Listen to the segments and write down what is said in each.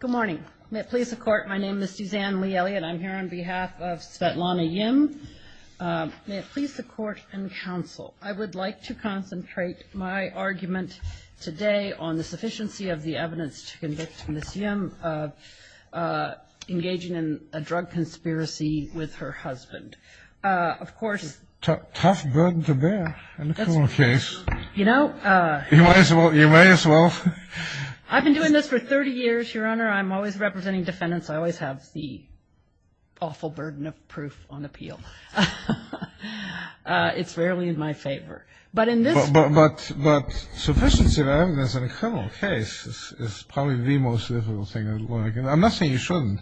Good morning. May it please the Court, my name is Suzanne Lee Elliott. I'm here on behalf of Svetlana Yim. May it please the Court and Counsel, I would like to concentrate my argument today on the sufficiency of the evidence to convict Ms. Yim of engaging in a drug conspiracy with her husband. Of course, it's a tough burden to bear in this little case. You know, you may as well. I've been doing this for 30 years, Your Honor. I'm always representing defendants. I always have the awful burden of proof on appeal. It's rarely in my favor. But sufficiency of evidence in a criminal case is probably the most difficult thing. I'm not saying you shouldn't.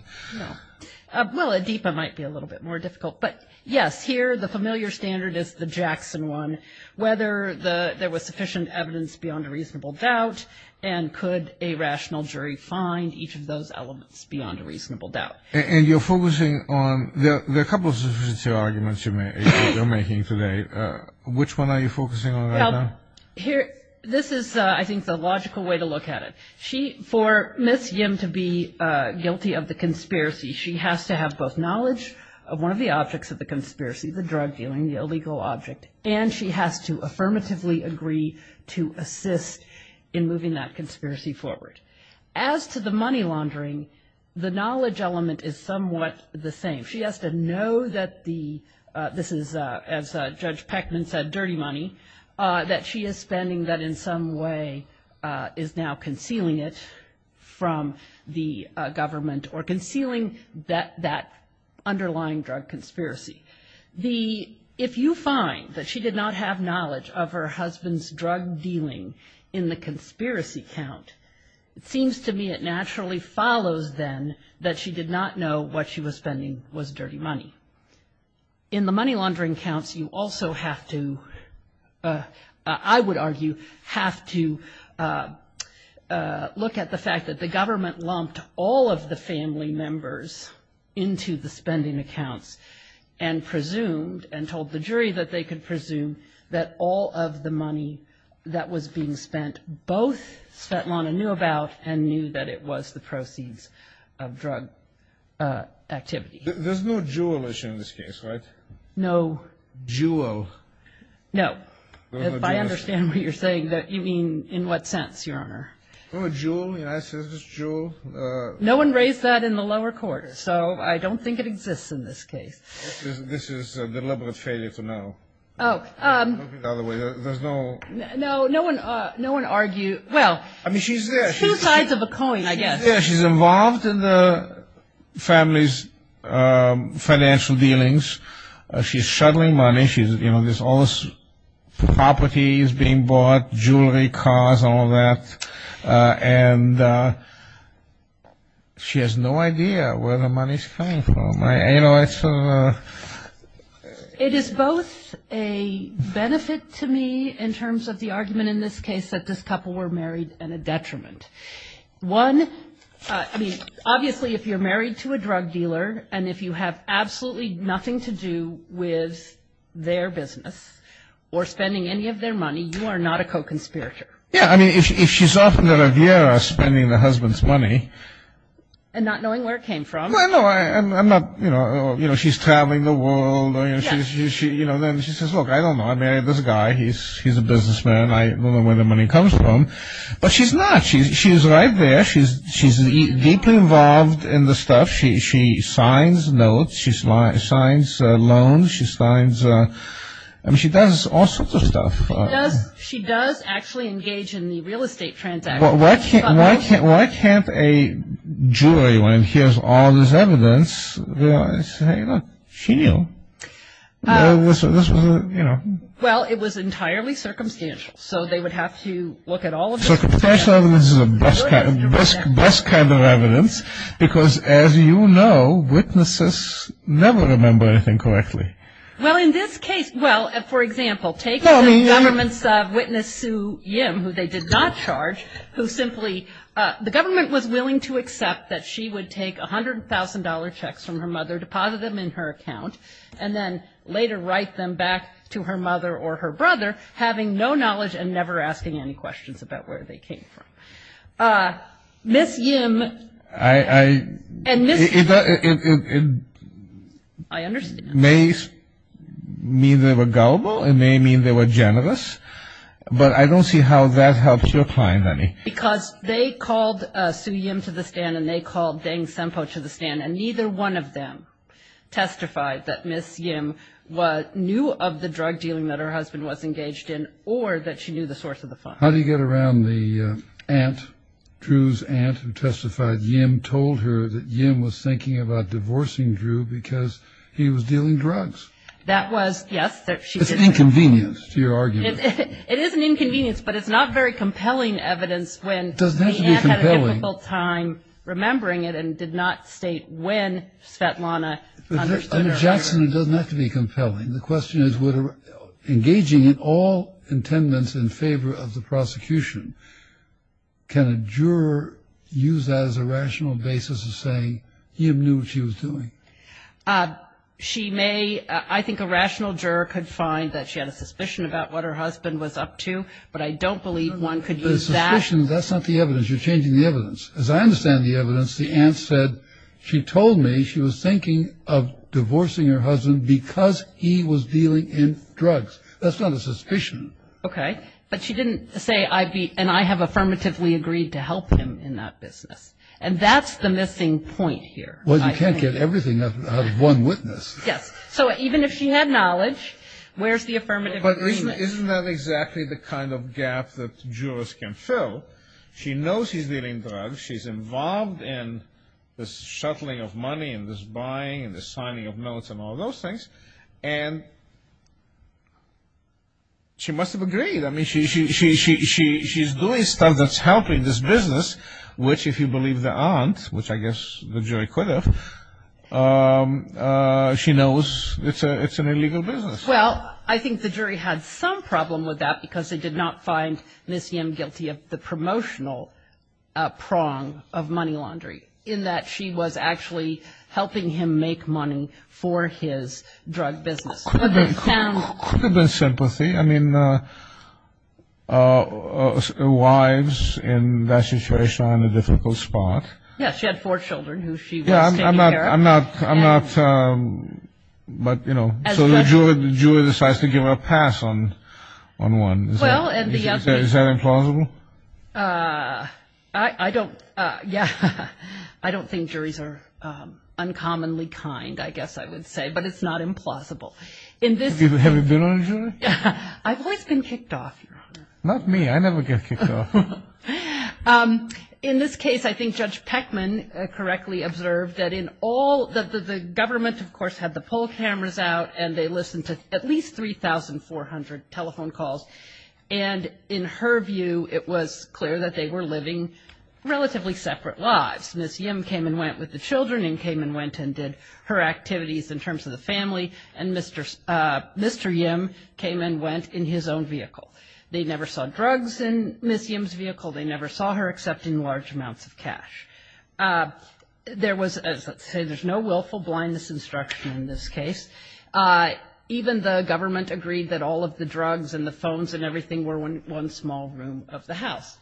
Well, Adipa might be a little bit more difficult. But yes, here the familiar standard is the Jackson one. Whether there was sufficient evidence beyond a reasonable doubt and could a rational jury find each of those elements beyond a reasonable doubt. And you're focusing on, there are a couple of arguments you're making today. Which one are you focusing on right now? This is, I think, the logical way to look at it. For Ms. Yim to be guilty of the conspiracy, she has to have both knowledge of one of the objects of the conspiracy, the drug dealing, the illegal object. And she has to affirmatively agree to assist in moving that conspiracy forward. As to the money laundering, the knowledge element is somewhat the same. She has to know that the, this is, as Judge Peckman said, dirty money, that she is spending that in some way is now concealing it from the government or concealing that underlying drug conspiracy. The, if you find that she did not have knowledge of her husband's drug dealing in the conspiracy count, it seems to me it naturally follows then that she did not know what she was spending was dirty money. In the money laundering counts, you also have to, I would argue, have to look at the fact that the government lumped all of the family members into the spending accounts. And presumed, and told the jury that they could presume that all of the money that was being spent, both that Lana knew about and knew that it was the proceeds of drug activity. There's no jewel in this case, right? No. Jewel. No. I understand what you're saying. You mean, in what sense, Your Honor? Jewel, yes, there's a jewel. No one raised that in the lower court, so I don't think it exists in this case. This is a deliberate failure to know. Oh. There's no. No, no one, no one argued. Well. I mean, she's there. Two sides of a coin, I guess. She's there. She's involved in the family's financial dealings. She's shuttling money. She's, you know, there's all this property is being bought, jewelry, cars, all of that. And she has no idea where the money's coming from. You know, it's sort of a. It is both a benefit to me in terms of the argument in this case that this couple were married and a detriment. One, I mean, obviously if you're married to a drug dealer and if you have absolutely nothing to do with their business or spending any of their money, you are not a co-conspirator. Yeah. I mean, if she's off in the Riviera spending the husband's money. And not knowing where it came from. Well, no. I'm not, you know. You know, she's traveling the world. You know, and then she says, look, I don't know. I mean, there's a guy. He's a businessman. I don't know where the money comes from. But she's not. She's right there. She's deeply involved in the stuff. She signs notes. She signs loans. She signs. I mean, she does all sorts of stuff. She does actually engage in the real estate transactions. Well, why can't a jeweler, when he hears all this evidence, realize, hang on, she knew. This was, you know. Well, it was entirely circumstantial. So, they would have to look at all of this. So, circumstantial evidence is the best kind of evidence. Because, as you know, witnesses never remember anything correctly. Well, in this case, well, for example, take the government's witness, Sue Yim, who they did not charge, who simply, the government was willing to accept that she would take $100,000 checks from her mother, deposit them in her account, and then later write them back to her mother or her brother, having no knowledge and never asking any questions about where they came from. Ms. Yim and Ms. Yim. It may mean they were gullible. It may mean they were generous. But I don't see how that helps your client, honey. Because they called Sue Yim to the stand, and they called Dane Semple to the stand, and neither one of them testified that Ms. Yim knew of the drug dealing that her husband was engaged in or that she knew the source of the funds. How do you get around the aunt, Drew's aunt who testified, Yim told her that Yim was thinking about divorcing Drew because he was dealing drugs? That was, yes. It's inconvenience to your argument. It is an inconvenience, but it's not very compelling evidence when the aunt had a difficult time remembering it and did not state when Svetlana understood. And, Jackson, it doesn't have to be compelling. The question is, engaging in all intendance in favor of the prosecution, can a juror use that as a rational basis to say Yim knew what she was doing? She may. I think a rational juror could find that she had a suspicion about what her husband was up to, but I don't believe one could use that. You're changing the evidence. As I understand the evidence, the aunt said, she told me she was thinking of divorcing her husband because he was dealing in drugs. That's not a suspicion. Okay. But she didn't say, and I have affirmatively agreed to help him in that business. And that's the missing point here. Well, you can't get everything out of one witness. Yes. So even if she had knowledge, where's the affirmative agreement? But isn't that exactly the kind of gap that jurors can fill? She knows he's dealing in drugs. She's involved in this shuffling of money and this buying and this signing of notes and all those things. And she must have agreed. I mean, she's doing stuff that's helping this business, which if you believe the aunt, which I guess the jury could have, she knows it's an illegal business. Well, I think the jury had some problem with that because they did not find Miss Yim guilty of the promotional prong of money laundry, in that she was actually helping him make money for his drug business. Could have been sympathy. I mean, wives in that situation are in a difficult spot. I'm not. I'm not. I'm not. But, you know, the jury decides to give a pass on one. Well, is that implausible? I don't. Yes. I don't think juries are uncommonly kind, I guess I would say. But it's not implausible. Have you been on a jury? I've been kicked off. Not me. I never get kicked off. In this case, I think Judge Peckman correctly observed that the government, of course, had the poll cameras out and they listened to at least 3,400 telephone calls. And in her view, it was clear that they were living relatively separate lives. Miss Yim came and went with the children and came and went and did her activities in terms of the family, and Mr. Yim came and went in his own vehicle. They never saw drugs in Miss Yim's vehicle. They never saw her accepting large amounts of cash. There was, as I say, there's no willful blindness instruction in this case. Even the government agreed that all of the drugs and the phones and everything were in one small room of the house.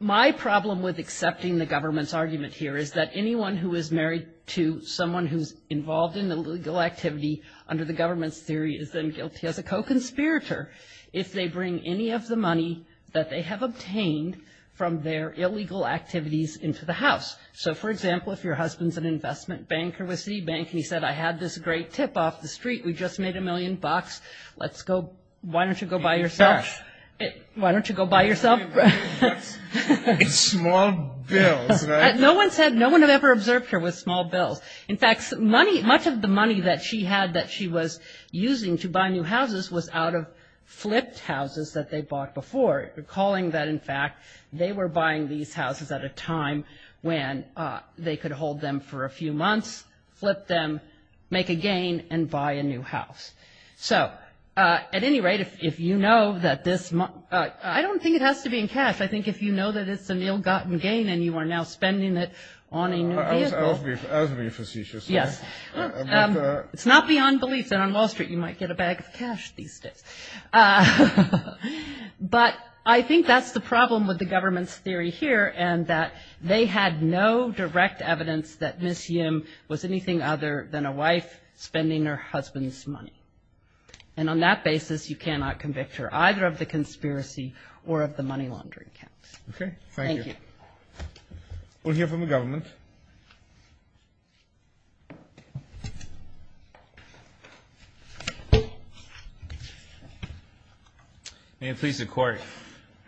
My problem with accepting the government's argument here is that anyone who is married to someone who is involved in an illegal activity under the government's theory is then guilty as a co-conspirator if they bring any of the money that they have obtained from their illegal activities into the house. So, for example, if your husband's an investment banker with C-Bank, he said, I had this great tip off the street. We just made a million bucks. Let's go. Why don't you go buy yourself? Why don't you go buy yourself? A small bill, right? No one said, no one had ever observed her with a small bill. In fact, money, much of the money that she had that she was using to buy new houses was out of flipped houses that they bought before, recalling that, in fact, they were buying these houses at a time when they could hold them for a few months, flip them, make a gain, and buy a new house. So, at any rate, if you know that this, I don't think it has to be in cash. I think if you know that it's an ill-gotten gain and you are now spending it on a new vehicle. It's not beyond belief that on Wall Street you might get a bag of cash these days. But I think that's the problem with the government's theory here and that they had no direct evidence that Ms. Yim was anything other than a wife spending her husband's money. And on that basis, you cannot convict her either of the conspiracy or of the money laundering. Okay. Thank you. We'll hear from the government. May it please the Court.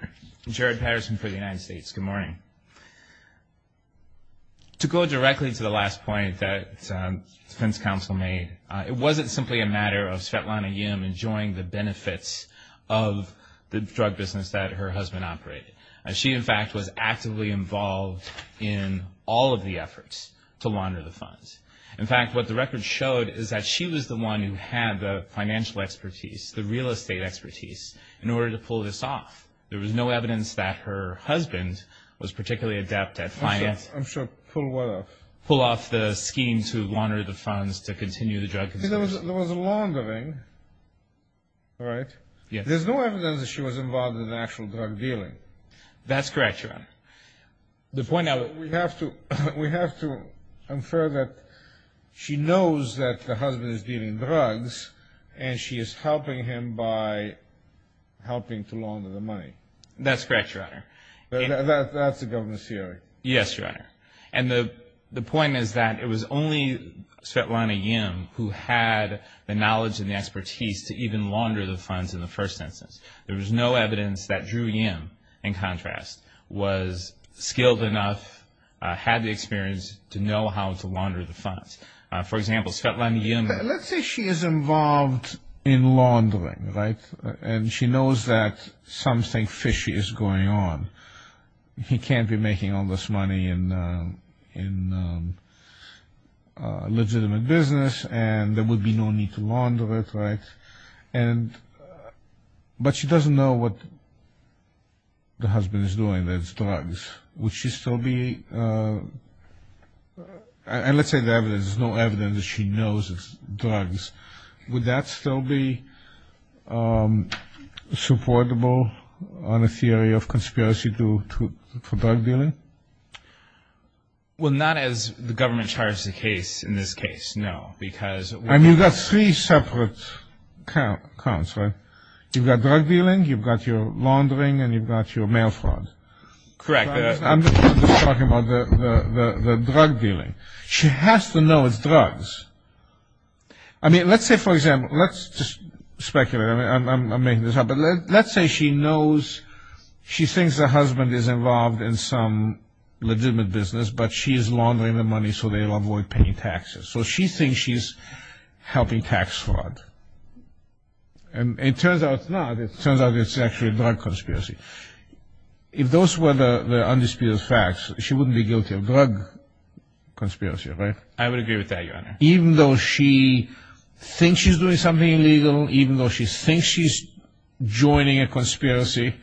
I'm Jared Patterson for the United States. Good morning. To go directly to the last point that the defense counsel made, it wasn't simply a matter of Svetlana Yim enjoying the benefits of the drug business that her husband operated. She, in fact, was actively involved in all of the efforts to launder the funds. In fact, what the record showed is that she was the one who had the financial expertise, the real estate expertise, in order to pull this off. There was no evidence that her husband was particularly adept at finance. I'm sure pull what off? Pull off the scheme to launder the funds to continue the drug business. There was a laundering, right? Yes. There's no evidence that she was involved in the actual drug dealing. That's correct, Your Honor. We have to infer that she knows that her husband is dealing drugs, and she is helping him by helping to launder the money. That's correct, Your Honor. That's the government's theory. Yes, Your Honor. And the point is that it was only Svetlana Yim who had the knowledge and the expertise to even launder the funds in the first instance. There was no evidence that Drew Yim, in contrast, was skilled enough, had the experience to know how to launder the funds. For example, Svetlana Yim. Let's say she is involved in laundering, right? And she knows that something fishy is going on. He can't be making all this money in a legitimate business, and there would be no need to launder it, right? But she doesn't know what the husband is doing, that it's drugs. Would she still be... And let's say there is no evidence that she knows it's drugs. Would that still be supportable on a theory of conspiracy to drug dealing? Well, not as the government charges in this case, no, because... And you've got three separate counts, right? You've got drug dealing, you've got your laundering, and you've got your mail fraud. Correct. I'm just talking about the drug dealing. She has to know it's drugs. I mean, let's say, for example, let's just speculate. I'm making this up. But let's say she knows, she thinks the husband is involved in some legitimate business, but she is laundering the money so they avoid paying taxes. So she thinks she's helping tax fraud. And it turns out, no, it turns out it's actually a drug conspiracy. If those were the undisputed facts, she wouldn't be guilty of drug conspiracy, right? I would agree with that, Your Honor. Even though she thinks she's doing something illegal, even though she thinks she's joining a conspiracy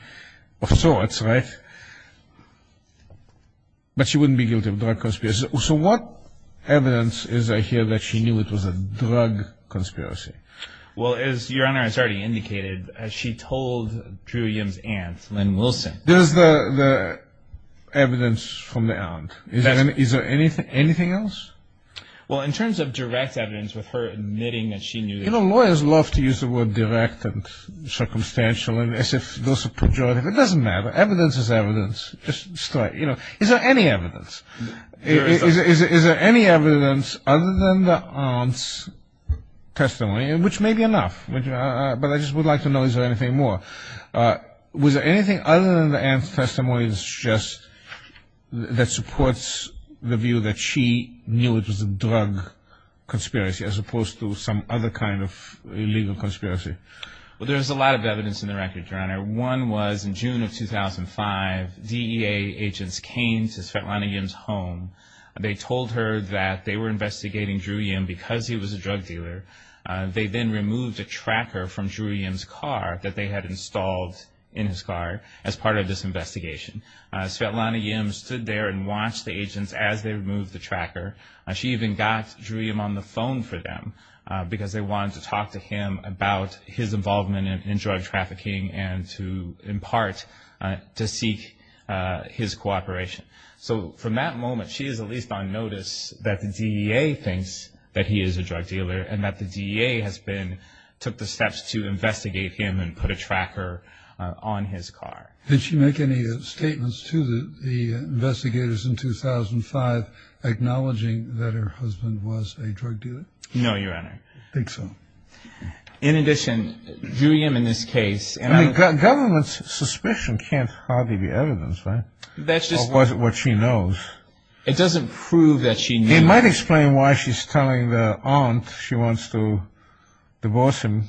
of sorts, right? But she wouldn't be guilty of drug conspiracy. So what evidence is there here that she knew it was a drug conspiracy? Well, as Your Honor has already indicated, she told Drew Yim's aunt, Lynn Wilson. There's the evidence from the aunt. Is there anything else? Well, in terms of direct evidence with her admitting that she knew it was a drug conspiracy. You know, lawyers love to use the word direct and circumstantial. It doesn't matter. Evidence is evidence. Is there any evidence? Is there any evidence other than the aunt's testimony, which may be enough? But I just would like to know, is there anything more? Was there anything other than the aunt's testimony that supports the view that she knew it was a drug conspiracy, as opposed to some other kind of illegal conspiracy? Well, there's a lot of evidence in the record, Your Honor. One was in June of 2005, DEA agents came to Svetlana Yim's home. They told her that they were investigating Drew Yim because he was a drug dealer. They then removed a tracker from Drew Yim's car that they had installed in his car as part of this investigation. Svetlana Yim stood there and watched the agents as they removed the tracker. She even got Drew Yim on the phone for them because they wanted to talk to him about his involvement in drug trafficking and to, in part, to seek his cooperation. So from that moment, she is at least on notice that the DEA thinks that he is a drug dealer and that the DEA has been, took the steps to investigate him and put a tracker on his car. Did she make any statements to the investigators in 2005 acknowledging that her husband was a drug dealer? No, Your Honor. I think so. In addition, Drew Yim in this case, and I'm... The government's suspicion can't hardly be evidence, right, of what she knows. It doesn't prove that she knew. It might explain why she's telling the aunt she wants to divorce him.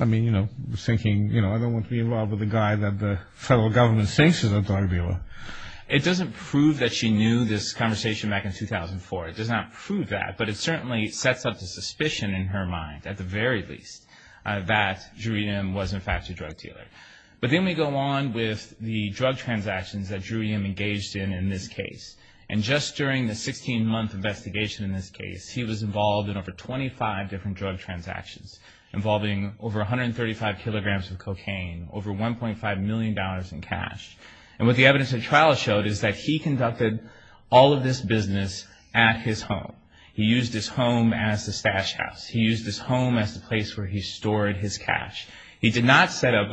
I mean, you know, thinking, you know, I don't want to be involved with a guy that the federal government thinks is a drug dealer. It doesn't prove that she knew this conversation back in 2004. It does not prove that. But it certainly sets up the suspicion in her mind, at the very least, that Drew Yim was, in fact, a drug dealer. But then we go on with the drug transactions that Drew Yim engaged in in this case. And just during the 16-month investigation in this case, he was involved in over 25 different drug transactions, involving over 135 kilograms of cocaine, over $1.5 million in cash. And what the evidence in trial showed is that he conducted all of this business at his home. He used his home as the stash house. He used his home as the place where he stored his cash. He did not set up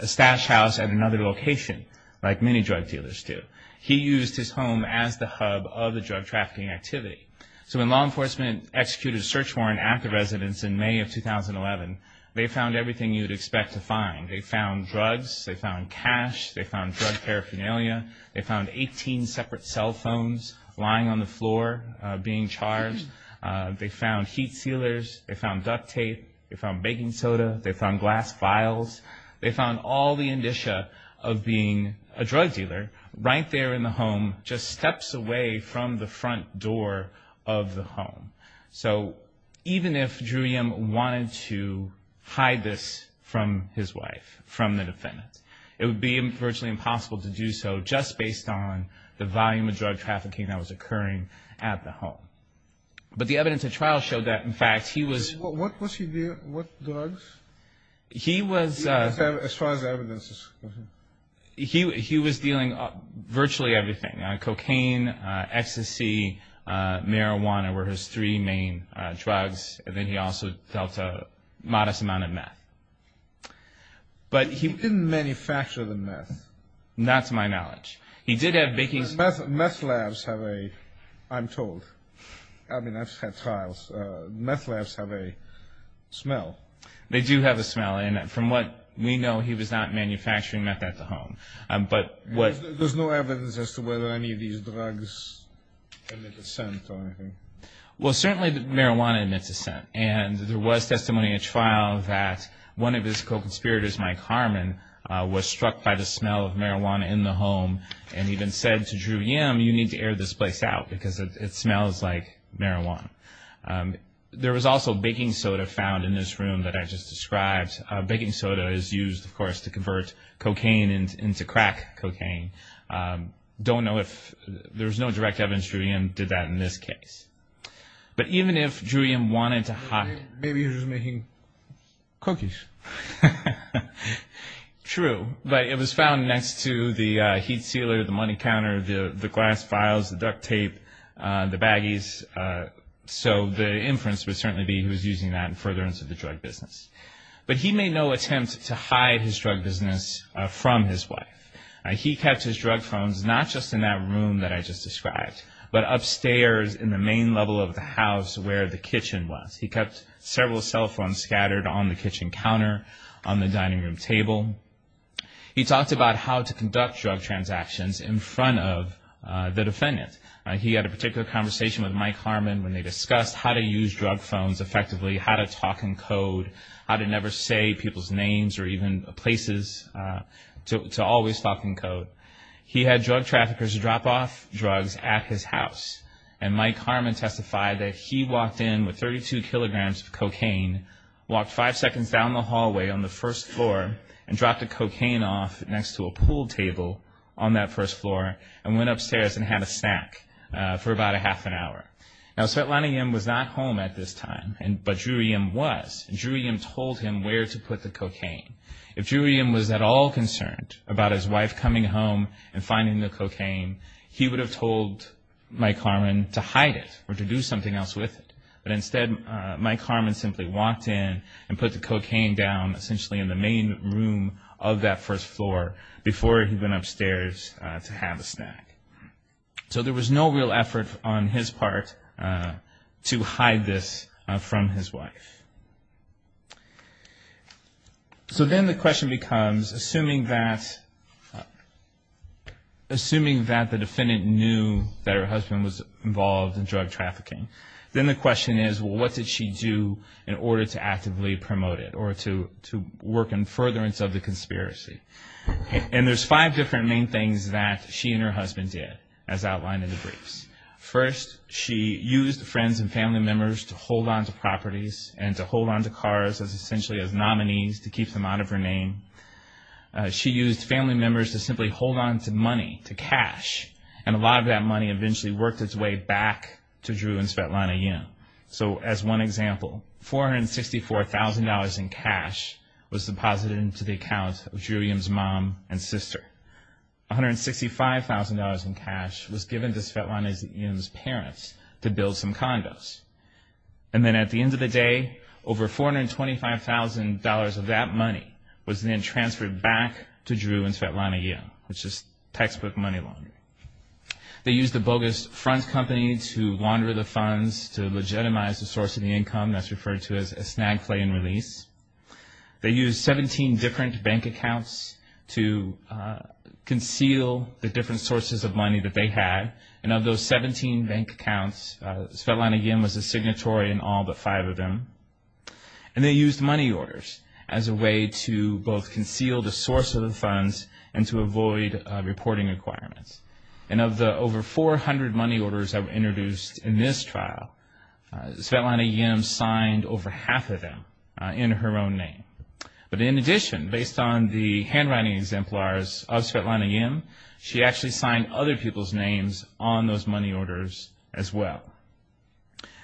a stash house at another location, like many drug dealers do. He used his home as the hub of the drug trafficking activity. So when law enforcement executed a search warrant at the residence in May of 2011, they found everything you'd expect to find. They found drugs. They found cash. They found drug paraphernalia. They found 18 separate cell phones lying on the floor being charged. They found heat sealers. They found duct tape. They found baking soda. They found glass vials. They found all the indicia of being a drug dealer right there in the home, just steps away from the front door of the home. So even if Drew Yim wanted to hide this from his wife, from the defendant, it would be virtually impossible to do so just based on the volume of drug trafficking that was occurring at the home. But the evidence at trial showed that, in fact, he was... What drugs? He was... As far as the evidence is concerned. He was dealing virtually everything. Cocaine, ecstasy, marijuana were his three main drugs. And then he also dealt a modest amount of meth. But he didn't manufacture the meth. Not to my knowledge. He did have baking soda. Meth labs have a... I'm told. I mean, I've had trials. Meth labs have a smell. They do have a smell. And from what we know, he was not manufacturing meth at the home. But what... There's no evidence as to whether any of these drugs emitted scent or anything. Well, certainly marijuana emitted scent. And there was testimony at trial that one of his co-conspirators, Mike Harmon, was struck by the smell of marijuana in the home and even said to Drury M., you need to air this place out because it smells like marijuana. There was also baking soda found in this room that I just described. Baking soda is used, of course, to convert cocaine into crack cocaine. Don't know if... There's no direct evidence Drury M. did that in this case. But even if Drury M. wanted to hide... Maybe he was making cookies. True. But it was found next to the heat sealer, the money counter, the glass vials, the duct tape, the baggies. So the inference would certainly be he was using that in furtherance of the drug business. But he made no attempt to hide his drug business from his wife. He kept his drug phones not just in that room that I just described, but upstairs in the main level of the house where the kitchen was. He kept several cell phones scattered on the kitchen counter, on the dining room table. He talked about how to conduct drug transactions in front of the defendant. He had a particular conversation with Mike Harmon when they discussed how to use drug phones effectively, how to talk in code, how to never say people's names or even places, to always talk in code. He had drug traffickers drop off drugs at his house. And Mike Harmon testified that he walked in with 32 kilograms of cocaine, walked five seconds down the hallway on the first floor and dropped the cocaine off next to a pool table on that first floor and went upstairs and had a snack for about a half an hour. Now, Svetlana Yem was not home at this time, but Drew Yem was. And Drew Yem told him where to put the cocaine. If Drew Yem was at all concerned about his wife coming home and finding the cocaine, he would have told Mike Harmon to hide it or to do something else with it. But instead, Mike Harmon simply walked in and put the cocaine down essentially in the main room of that first floor before he went upstairs to have a snack. So there was no real effort on his part to hide this from his wife. So then the question becomes, assuming that the defendant knew that her husband was involved in drug trafficking, then the question is, well, what did she do in order to actively promote it or to work in furtherance of the conspiracy? And there's five different main things that she and her husband did, as outlined in the briefs. First, she used friends and family members to hold onto properties and to hold onto cars essentially as nominees to keep them out of her name. She used family members to simply hold onto money, to cash, and a lot of that money eventually worked its way back to Drew and Svetlana Yem. So as one example, $464,000 in cash was deposited into the account of Drew Yem's mom and sister. $165,000 in cash was given to Svetlana Yem's parents to build some condos. And then at the end of the day, over $425,000 of that money was then transferred back to Drew and Svetlana Yem. It's just textbook money laundering. They used a bogus front company to launder the funds to legitimize the source of the income. That's referred to as snag, slay, and release. They used 17 different bank accounts to conceal the different sources of money that they had. And of those 17 bank accounts, Svetlana Yem was the signatory in all but five of them. And they used money orders as a way to both conceal the source of the funds and to avoid reporting requirements. And of the over 400 money orders that were introduced in this trial, Svetlana Yem signed over half of them in her own name. But in addition, based on the handwriting exemplars of Svetlana Yem, she actually signed other people's names on those money orders as well.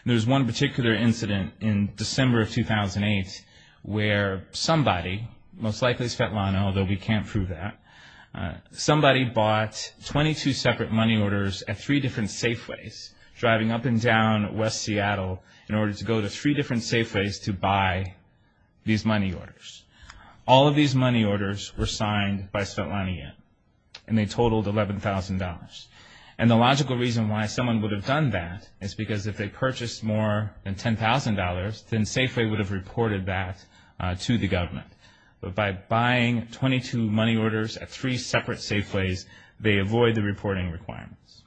There's one particular incident in December of 2008 where somebody, most likely Svetlana, although we can't prove that, somebody bought 22 separate money orders at three different Safeways, driving up and down West Seattle in order to go to three different Safeways to buy these money orders. All of these money orders were signed by Svetlana Yem. And they totaled $11,000. And the logical reason why someone would have done that is because if they purchased more than $10,000, then Safeway would have reported that to the government. But by buying 22 money orders at three separate Safeways, they avoid the reporting requirements.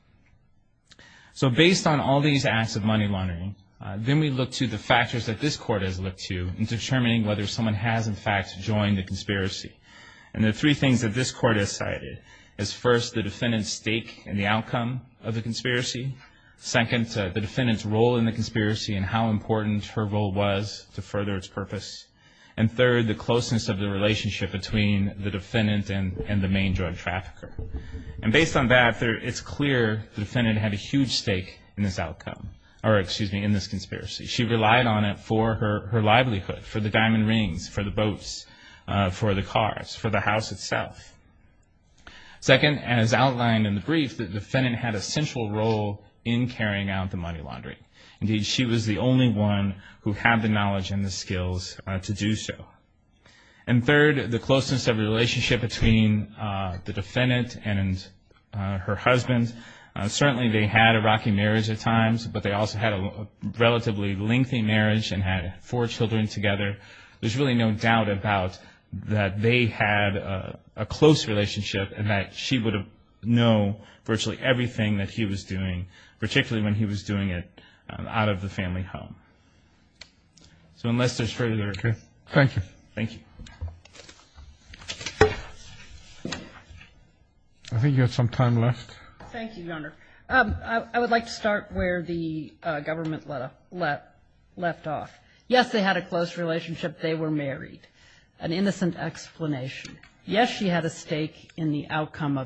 So based on all these acts of money laundering, then we look to the factors that this Court has looked to in determining whether someone has, in fact, joined the conspiracy. And the three things that this Court has cited is, first, the defendant's stake in the outcome of the conspiracy. Second, the defendant's role in the conspiracy and how important her role was to further its purpose. And third, the closeness of the relationship between the defendant and the main drug trafficker. And based on that, it's clear the defendant had a huge stake in this outcome, or excuse me, in this conspiracy. She relied on it for her livelihood, for the diamond rings, for the boats, for the cars, for the house itself. Second, as outlined in the brief, the defendant had a central role in carrying out the money laundering. Indeed, she was the only one who had the knowledge and the skills to do so. And third, the closeness of the relationship between the defendant and her husband. Certainly they had a rocky marriage at times, but they also had a relatively lengthy marriage and had four children together. There's really no doubt about that they had a close relationship and that she would have known virtually everything that he was doing, particularly when he was doing it out of the family home. So unless there's further discussion. Thank you. Thank you. I think you have some time left. Thank you, Your Honor. I would like to start where the government left off. Yes, they had a close relationship. They were married. An innocent explanation. Yes, she had a stake in the outcome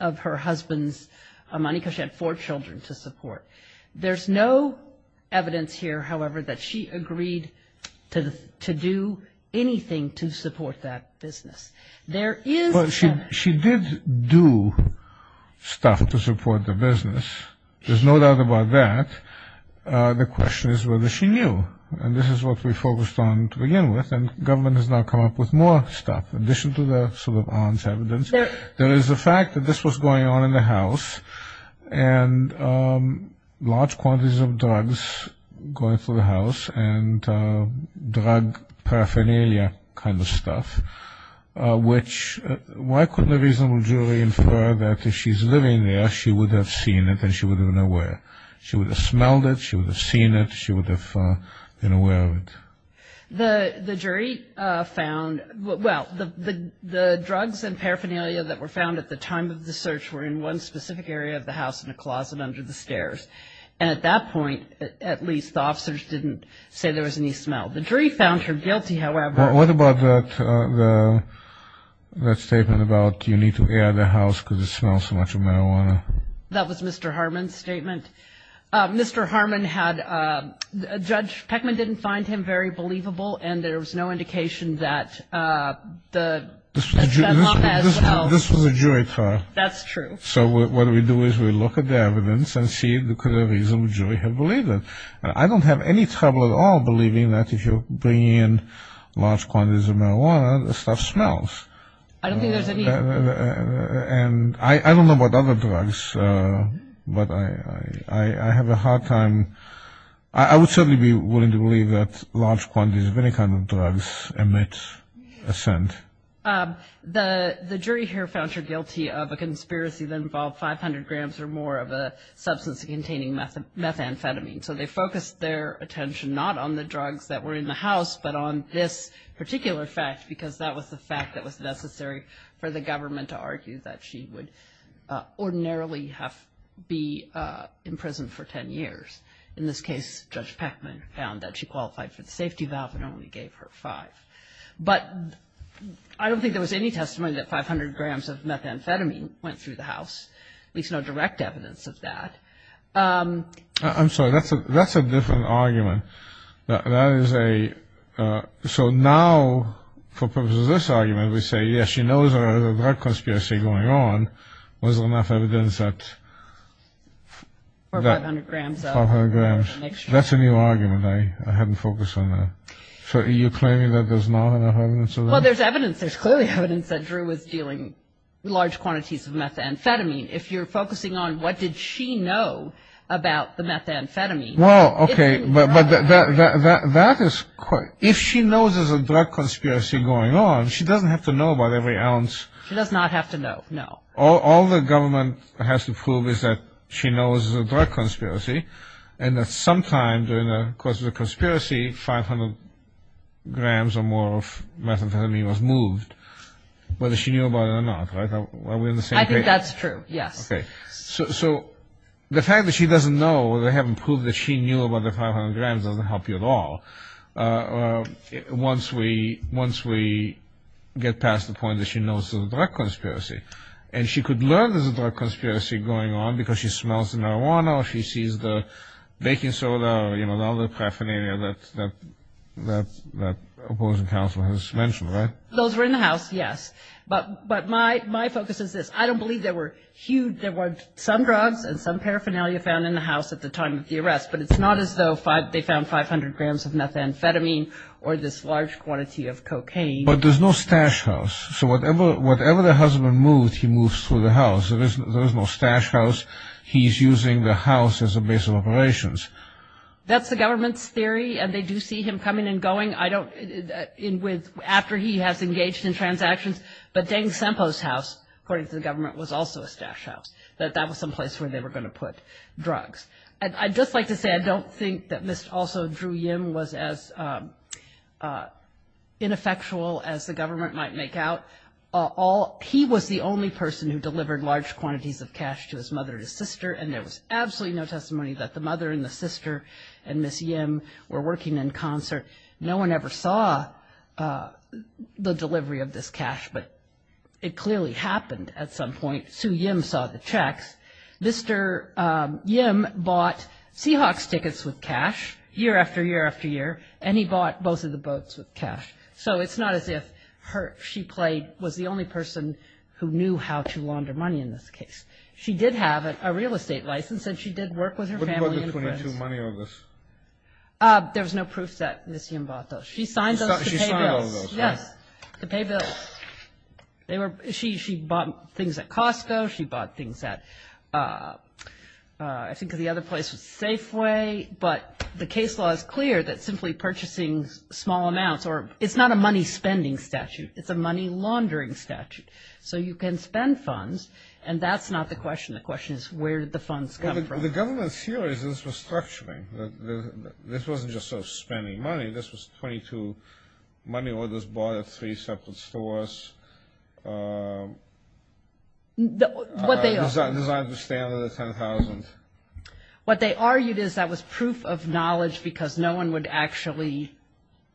of her husband's money because she had four children to support. There's no evidence here, however, that she agreed to do anything to support that business. She did do stuff to support the business. There's no doubt about that. The question is whether she knew. And this is what we focused on to begin with. And the government has now come up with more stuff. There is a fact that this was going on in the house. And large quantities of drugs going through the house and drug paraphernalia kind of stuff, which why couldn't the reasonable jury infer that if she's living there, she would have seen it and she would have been aware. She would have smelled it. She would have seen it. She would have been aware of it. The jury found, well, the drugs and paraphernalia that were found at the time of the search were in one specific area of the house, in a closet under the stairs. And at that point, at least, the officers didn't say there was any smell. The jury found her guilty, however. What about that statement about you need to be out of the house because it smells so much of marijuana? That was Mr. Harmon's statement. Mr. Harmon had, Judge Peckman didn't find him very believable, and there was no indication that the... This was a jury trial. That's true. So what we do is we look at the evidence and see if there's a reason the jury had believed it. I don't have any trouble at all believing that if you bring in large quantities of marijuana, the stuff smells. I don't think there's any... And I don't know about other drugs, but I have a hard time... I would certainly be willing to believe that large quantities of any kind of drugs emit a scent. The jury here found her guilty of a conspiracy that involved 500 grams or more of a substance containing methamphetamine. So they focused their attention not on the drugs that were in the house, but on this particular fact, because that was the fact that was necessary for the government to argue that she would ordinarily be in prison for 10 years. In this case, Judge Peckman found that she qualified for the safety valve and only gave her five. But I don't think there was any testimony that 500 grams of methamphetamine went through the house. There's no direct evidence of that. I'm sorry, that's a different argument. That is a... So now, for purposes of this argument, we say, yes, she knows there was a drug conspiracy going on, but there's no evidence that... Or 500 grams. 500 grams. That's a new argument. I hadn't focused on that. So are you claiming that there's not enough evidence of that? Well, there's evidence. There's clearly evidence that Drew was dealing with large quantities of methamphetamine. If you're focusing on what did she know about the methamphetamine... Well, okay, but that is... If she knows there's a drug conspiracy going on, she doesn't have to know about every ounce. She does not have to know, no. All the government has to prove is that she knows there's a drug conspiracy and that sometime during the course of the conspiracy, 500 grams or more of methamphetamine was moved, whether she knew about it or not, right? I think that's true, yes. Okay. So the fact that she doesn't know or they haven't proved that she knew about the 500 grams doesn't help you at all once we get past the point that she knows there's a drug conspiracy. And she could learn there's a drug conspiracy going on because she smells the marijuana, she sees the baking soda, you know, all the paraphernalia that opposing counsel has mentioned, right? Those are in the House, yes. But my focus is this. I don't believe there were huge... There were some drugs and some paraphernalia found in the House at the time of the arrest, but it's not as though they found 500 grams of methamphetamine or this large quantity of cocaine. But there's no stash house. So whatever the husband moves, he moves through the House. There is no stash house. He's using the House as a base of operations. That's the government's theory, and they do see him coming and going. After he has engaged in transactions. But Deng Senpo's house, according to the government, was also a stash house. That was some place where they were going to put drugs. I'd just like to say I don't think that Ms. also Drew Yim was as ineffectual as the government might make out. He was the only person who delivered large quantities of cash to his mother and his sister, and there was absolutely no testimony that the mother and the sister and Ms. Yim were working in concert. No one ever saw the delivery of this cash, but it clearly happened at some point. Sue Yim saw the checks. Mr. Yim bought Seahawks tickets with cash year after year after year, and he bought both of the boats with cash. So it's not as if she was the only person who knew how to launder money in this case. She did have a real estate license, and she did work with her family. What was the 22 money on this? There was no proof that Ms. Yim bought those. She signed those to pay bills. She bought things at Costco. She bought things at I think the other place was Safeway. But the case law is clear that simply purchasing small amounts or it's not a money spending statute. It's a money laundering statute. So you can spend funds, and that's not the question. The question is where did the funds come from? The government's theory is this was structuring. This wasn't just sort of spending money. This was 22 money orders bought at three separate stores designed to stay under the $10,000. What they argued is that was proof of knowledge because no one would actually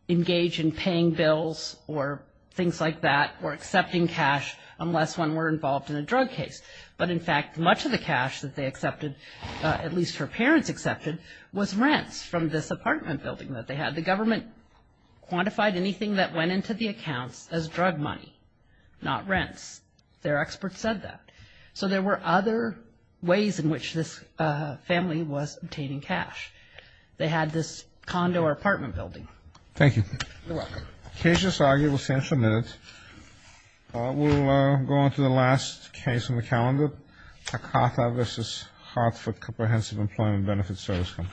engage in paying bills or things like that or accepting cash unless one were involved in a drug case. But, in fact, much of the cash that they accepted, at least her parents accepted, was rent from this apartment building that they had. The government quantified anything that went into the account as drug money, not rent. Their experts said that. So there were other ways in which this family was obtaining cash. They had this condo or apartment building. Thank you. You're welcome. Case is argued with central notes. We'll go on to the last case on the calendar, Takaka v. Hartford Comprehensive Employment Benefits Service Fund.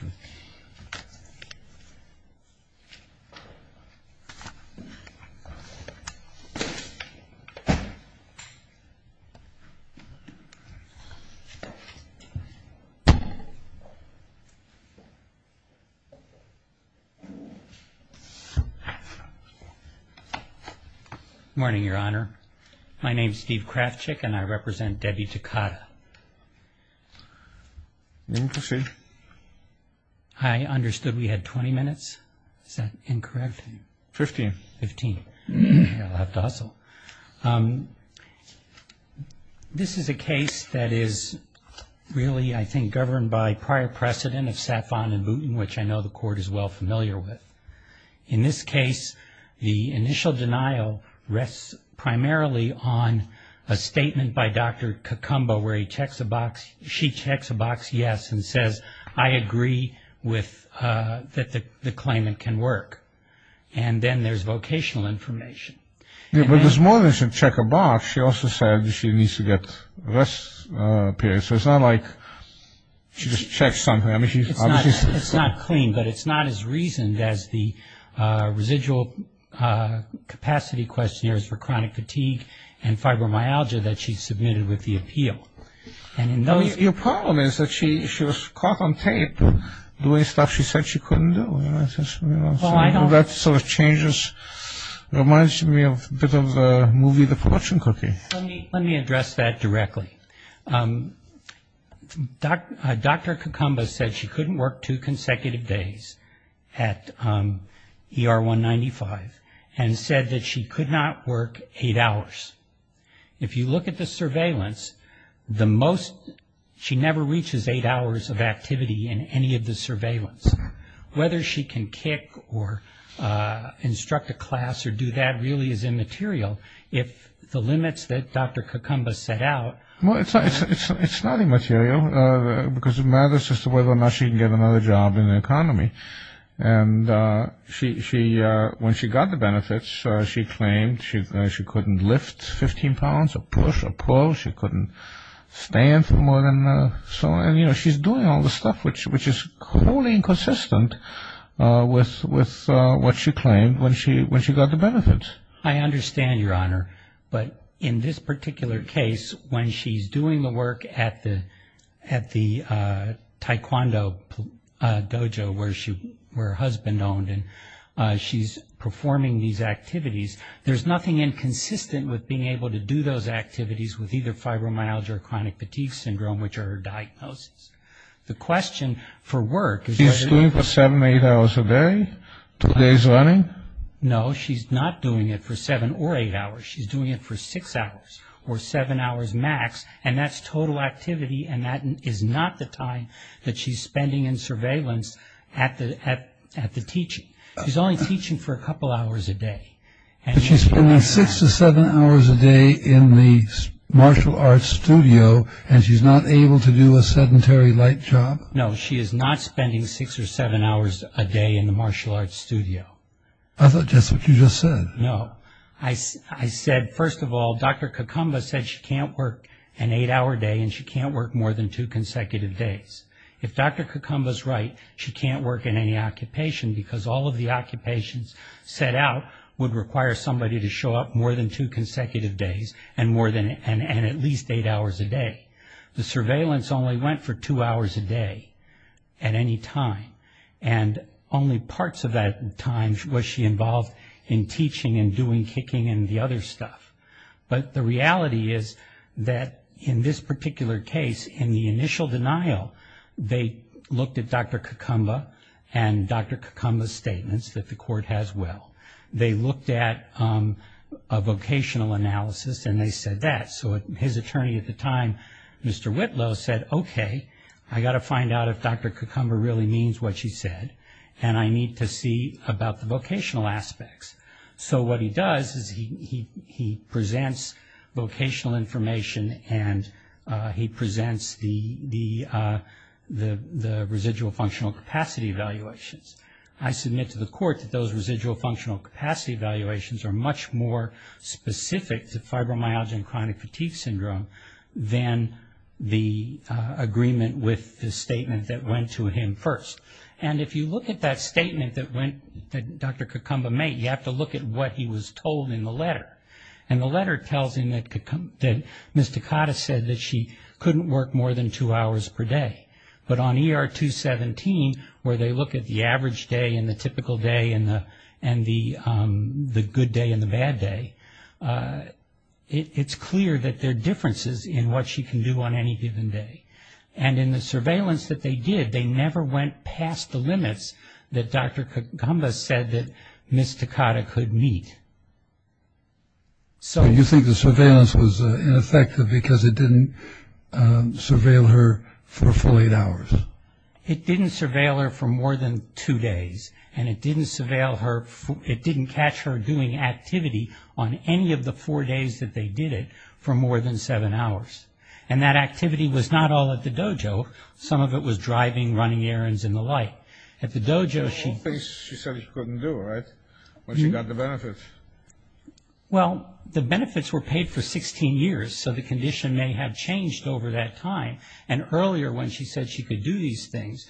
Good morning, Your Honor. My name is Steve Krafchick, and I represent Debbie Takada. I understood we had 20 minutes. Is that incorrect? Fifteen. Fifteen. That's awesome. Thank you. This is a case that is really, I think, governed by prior precedent of Sapon and Boonton, which I know the Court is well familiar with. In this case, the initial denial rests primarily on a statement by Dr. Kakumbo where she checks a box, yes, and says, I agree that the claimant can work. And then there's vocational information. Yeah, but there's more than just check a box. She also said that she needs to get rest periods. So it's not like she just checks something. I mean, she's obviously... It's not clean, but it's not as reasoned as the residual capacity questionnaires for chronic fatigue and fibromyalgia that she submitted with the appeal. And in those... Your problem is that she was caught on tape doing stuff she said she couldn't do. Well, I don't... That sort of changes, reminds me a bit of a movie, The Production Cookie. Let me address that directly. Dr. Kakumbo said she couldn't work two consecutive days at ER 195 and said that she could not work eight hours. If you look at the surveillance, the most... She never reaches eight hours of activity in any of the surveillance. Whether she can kick or instruct a class or do that really is immaterial. If the limits that Dr. Kakumbo set out... Well, it's not immaterial because it matters just whether or not she can get another job in the economy. And when she got the benefits, she claimed she couldn't lift 15 pounds or push or pull. She couldn't stand for more than... And, you know, she's doing all the stuff which is wholly inconsistent with what she claimed when she got the benefits. I understand, Your Honor. But in this particular case, when she's doing the work at the taekwondo dojo where her husband owned and she's performing these activities, there's nothing inconsistent with being able to do those activities with either fibromyalgia or chronic fatigue syndrome which are her diagnoses. The question for work... She's doing it for seven or eight hours a day, two days running? No, she's not doing it for seven or eight hours. She's doing it for six hours or seven hours max, and that's total activity and that is not the time that she's spending in surveillance at the teaching. She's only teaching for a couple hours a day. But she's spending six or seven hours a day in the martial arts studio and she's not able to do a sedentary light job? No, she is not spending six or seven hours a day in the martial arts studio. I thought that's what you just said. No. I said, first of all, Dr. Kakumba said she can't work an eight-hour day and she can't work more than two consecutive days. If Dr. Kakumba's right, she can't work in any occupation because all of the occupations set out would require somebody to show up more than two consecutive days and at least eight hours a day. The surveillance only went for two hours a day at any time, and only parts of that time was she involved in teaching and doing kicking and the other stuff. But the reality is that in this particular case, in the initial denial, they looked at Dr. Kakumba and Dr. Kakumba's statements that the court has will. They looked at a vocational analysis and they said that. So his attorney at the time, Mr. Whitlow, said, okay, I've got to find out if Dr. Kakumba really means what she said and I need to see about the vocational aspects. So what he does is he presents vocational information and he presents the residual functional capacity evaluations. I submit to the court that those residual functional capacity evaluations are much more specific to fibromyalgia and chronic fatigue syndrome than the agreement with the statement that went to him first. And if you look at that statement that Dr. Kakumba made, you have to look at what he was told in the letter. And the letter tells him that Ms. Takata said that she couldn't work more than two hours per day. But on ER 217, where they look at the average day and the typical day and the good day and the bad day, it's clear that there are differences in what she can do on any given day. And in the surveillance that they did, they never went past the limits that Dr. Kakumba said that Ms. Takata could meet. So you think the surveillance was ineffective because it didn't surveil her for 48 hours? It didn't surveil her for more than two days. And it didn't surveil her, it didn't catch her doing activity on any of the four days that they did it for more than seven hours. And that activity was not all at the dojo. Some of it was driving, running errands, and the like. At the dojo she- She said she couldn't do it when she got the benefits. Well, the benefits were paid for 16 years, so the condition may have changed over that time. And earlier when she said she could do these things,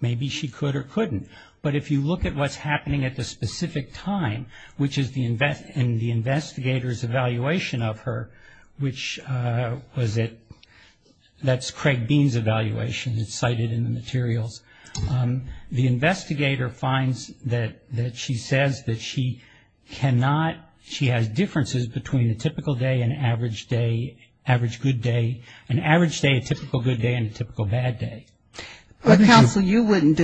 maybe she could or couldn't. But if you look at what's happening at the specific time, which is in the investigator's evaluation of her, which was at- that's Craig Bean's evaluation, it's cited in the materials. The investigator finds that she says that she cannot- she has differences between a typical day and an average day, average good day. An average day, a typical good day, and a typical bad day. Counsel, you wouldn't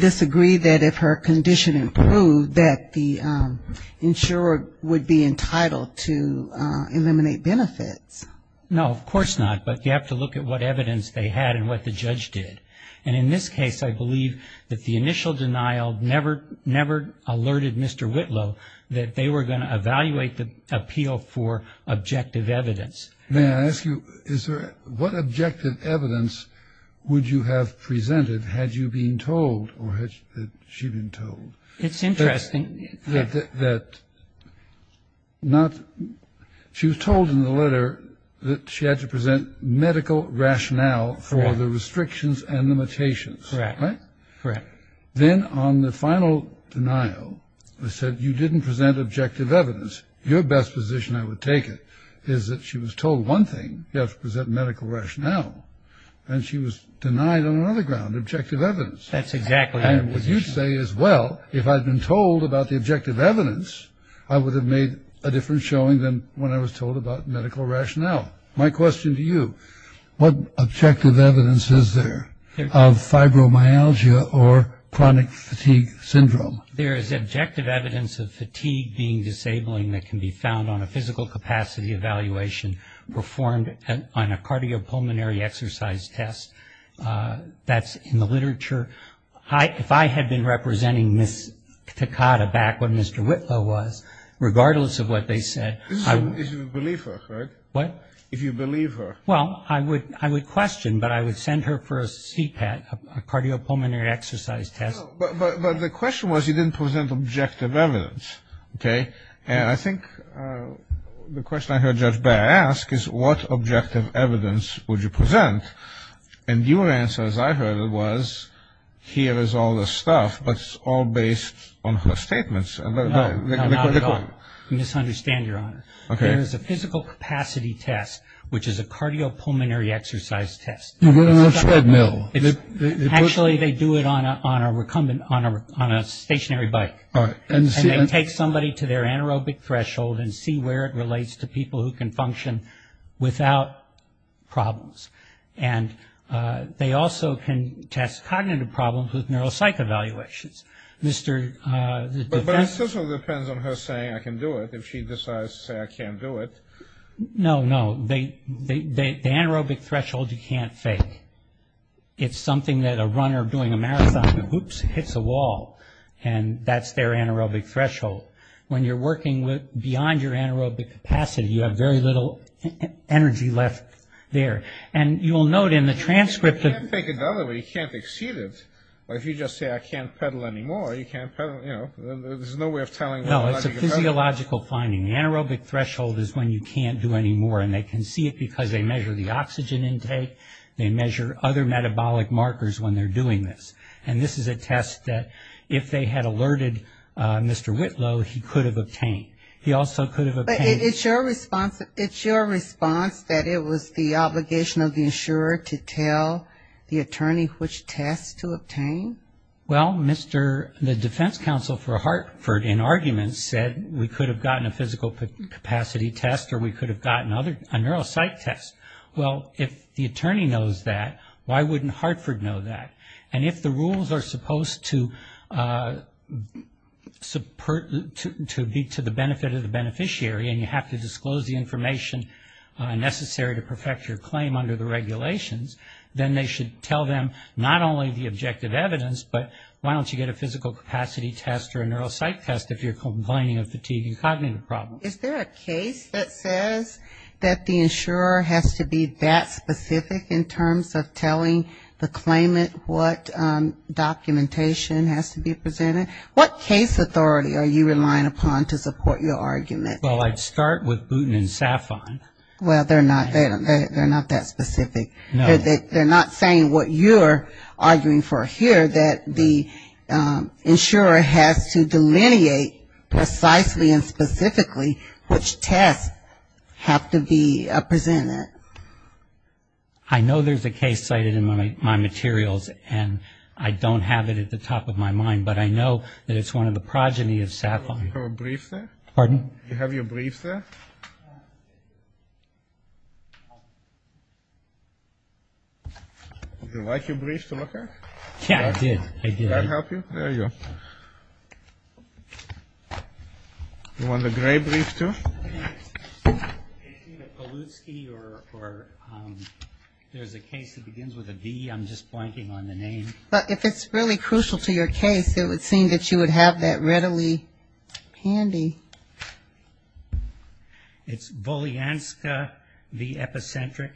disagree that if her condition improved, that the insurer would be entitled to eliminate benefits. No, of course not. But you have to look at what evidence they had and what the judge did. And in this case, I believe that the initial denial never alerted Mr. Whitlow that they were going to evaluate the appeal for objective evidence. May I ask you, is there- what objective evidence would you have presented had you been told or had she been told? It's interesting. That not- she was told in the letter that she had to present medical rationale for the restrictions and limitations. Correct. Right? Correct. Then on the final denial, they said you didn't present objective evidence. Your best position, I would take it, is that she was told one thing, you have to present medical rationale. And she was denied on another ground, objective evidence. That's exactly right. And what you say is, well, if I'd been told about the objective evidence, I would have made a different showing than when I was told about medical rationale. My question to you, what objective evidence is there of fibromyalgia or chronic fatigue syndrome? There is objective evidence of fatigue being disabling that can be found on a physical capacity evaluation performed on a cardiopulmonary exercise test. That's in the literature. If I had been representing Ms. Takada back when Mr. Whitlow was, regardless of what they said- If you believe her, right? What? If you believe her. Well, I would question, but I would send her for a CPAT, a cardiopulmonary exercise test. But the question was, you didn't present objective evidence. Okay? And I think the question I heard Judge Baer ask is, what objective evidence would you present? And your answer, as I heard it, was, here is all this stuff, but it's all based on her statements. You misunderstand, Your Honor. Okay. There is a physical capacity test, which is a cardiopulmonary exercise test. Actually, they do it on a stationary bike. And they take somebody to their anaerobic threshold and see where it relates to people who can function without problems. And they also can test cognitive problems with neuropsych evaluations. But it also depends on her saying I can do it, if she decides to say I can't do it. No, no. The anaerobic threshold you can't fake. It's something that a runner doing a marathon, whoops, hits a wall. And that's their anaerobic threshold. When you're working beyond your anaerobic capacity, you have very little energy left there. And you'll note in the transcript that you can't exceed it. Or if you just say I can't pedal anymore, you can't pedal, you know, there's no way of telling. No, it's a physiological finding. The anaerobic threshold is when you can't do anymore. And they can see it because they measure the oxygen intake. They measure other metabolic markers when they're doing this. And this is a test that if they had alerted Mr. Whitlow, he could have obtained. He also could have obtained. But it's your response that it was the obligation of the insurer to tell the attorney which test to obtain? Well, the defense counsel for Hartford in argument said we could have gotten a physical capacity test or we could have gotten a neuropsych test. Well, if the attorney knows that, why wouldn't Hartford know that? And if the rules are supposed to be to the benefit of the beneficiary and you have to disclose the information necessary to perfect your claim under the regulations, then they should tell them not only the objective evidence, but why don't you get a physical capacity test or a neuropsych test if you're complaining of fatigue and cognitive problems? Is there a case that says that the insurer has to be that specific in terms of telling the claimant what documentation has to be presented? What case authority are you relying upon to support your argument? Well, I'd start with Booten and Safon. Well, they're not that specific. They're not saying what you're arguing for here, that the insurer has to delineate precisely and specifically which tests have to be presented. I know there's a case cited in my materials and I don't have it at the top of my mind, but I know that it's one of the progeny of Safon. Do you have your brief there? Pardon? Would you like your brief to look at? Yeah, I did. I did. May I help you? There you go. You want the gray brief too? There's a case that begins with a D. I'm just blanking on the name. But if it's really crucial to your case, it would seem that you would have that readily handy. It's Bolyanska v. Epicentric.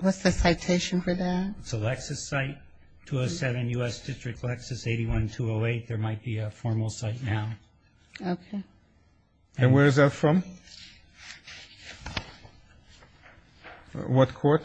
What's the citation for that? It's a Lexis site, 207 U.S. District Lexis, 81208. There might be a formal site now. Okay. And where is that from? What court?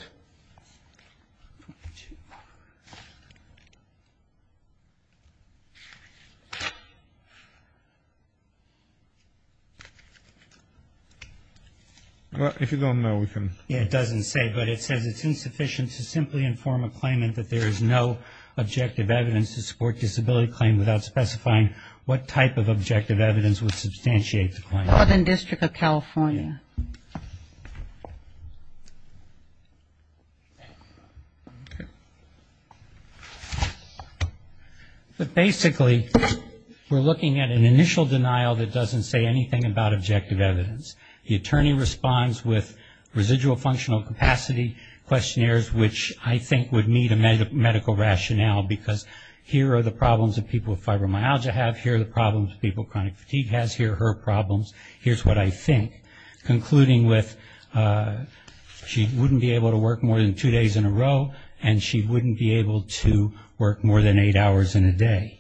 If you want to know, we can. Yeah, it doesn't say, but it says it's insufficient to simply inform a claimant that there is no objective evidence to support disability claim without specifying what type of objective evidence would substantiate the claim. Northern District of California. Okay. So basically, we're looking at an initial denial that doesn't say anything about objective evidence. The attorney responds with residual functional capacity questionnaires, which I think would need a medical rationale because here are the problems that people with fibromyalgia have, here are the problems people with chronic fatigue has, here are her problems, here's what I think. Concluding with she wouldn't be able to work more than two days in a row and she wouldn't be able to work more than eight hours in a day.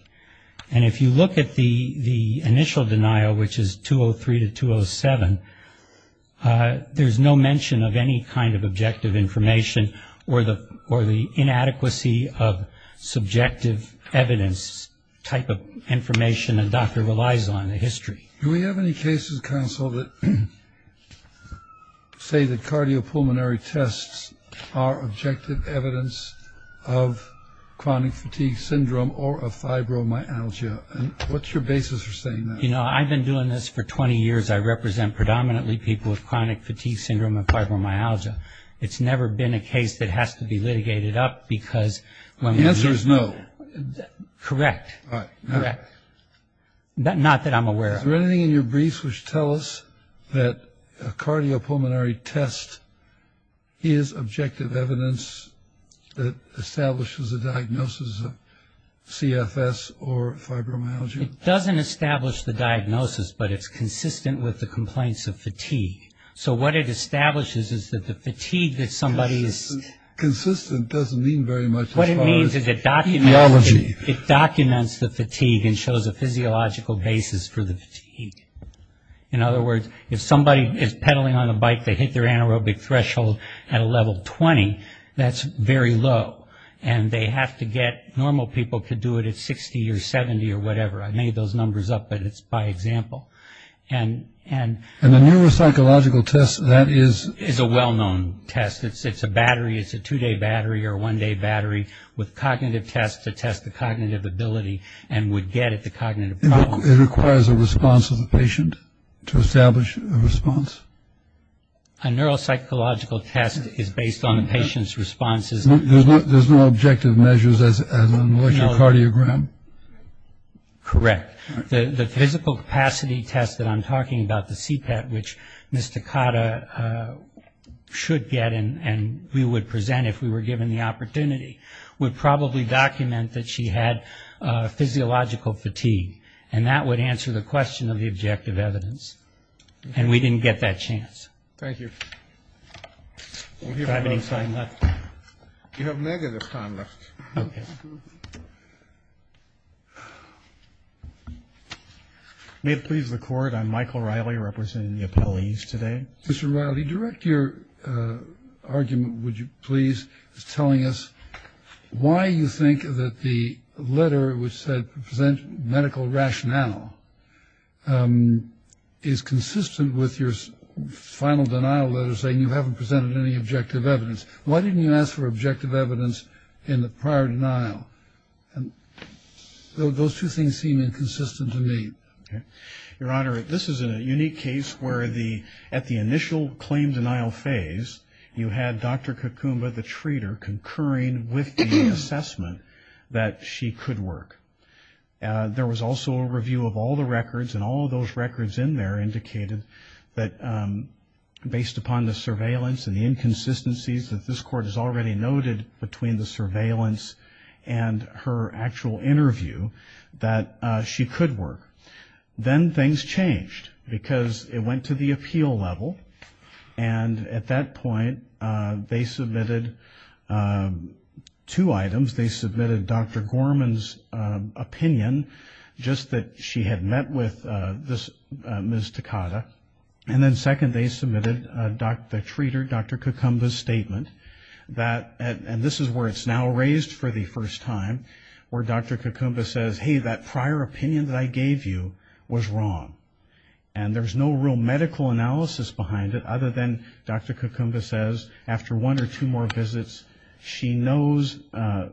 And if you look at the initial denial, which is 203 to 207, there's no mention of any kind of objective information or the inadequacy of subjective evidence type of information a doctor relies on in history. Do we have any cases, counsel, that say that cardiopulmonary tests are objective evidence of chronic fatigue syndrome or of fibromyalgia? And what's your basis for saying that? You know, I've been doing this for 20 years. I represent predominantly people with chronic fatigue syndrome and fibromyalgia. It's never been a case that has to be litigated up because one of the... The answer is no. Correct. Correct. Not that I'm aware of. Is there anything in your brief which tells us that a cardiopulmonary test is objective evidence that establishes a diagnosis of CFS or fibromyalgia? It doesn't establish the diagnosis, but it's consistent with the complaints of fatigue. So what it establishes is that the fatigue that somebody is... Consistent doesn't mean very much... What it means is it documents the fatigue and shows a physiological basis for the fatigue. In other words, if somebody is pedaling on a bike, they hit their anaerobic threshold at a level 20, that's very low, and they have to get... Normal people could do it at 60 or 70 or whatever. I made those numbers up, but it's by example. And the neuropsychological test, that is... It's a well-known test. It's a battery. It's a two-day battery or a one-day battery with cognitive tests to test the cognitive ability and would get at the cognitive problem. It requires a response of the patient to establish a response? A neuropsychological test is based on the patient's responses... There's no objective measures as in a cardiogram? Correct. The physical capacity test that I'm talking about, the CPAT, which Ms. Takata should get and we would present if we were given the opportunity, would probably document that she had physiological fatigue. And that would answer the question of the objective evidence. And we didn't get that chance. Thank you. You have negative conduct. Okay. May it please the Court? I'm Michael Riley, representing the appellees today. Mr. Riley, direct your argument, would you please, telling us why you think that the letter which said present medical rationale is consistent with your final denial letter saying you haven't presented any objective evidence. Why didn't you ask for objective evidence in the prior denial? Those two things seem inconsistent to me. Okay. Your Honor, this is a unique case where at the initial claim denial phase, you had Dr. Kakumba, the treater, concurring with the assessment that she could work. There was also a review of all the records, and all of those records in there indicated that based upon the surveillance and the inconsistencies that this Court has already noted between the surveillance and her actual interview, that she could work. Then things changed because it went to the appeal level. And at that point, they submitted two items. They submitted Dr. Gorman's opinion, just that she had met with Ms. Takada. And then second, they submitted the treater, Dr. Kakumba's statement. And this is where it's now raised for the first time, where Dr. Kakumba says, hey, that prior opinion that I gave you was wrong. And there's no real medical analysis behind it other than Dr. Kakumba says, after one or two more visits, she knows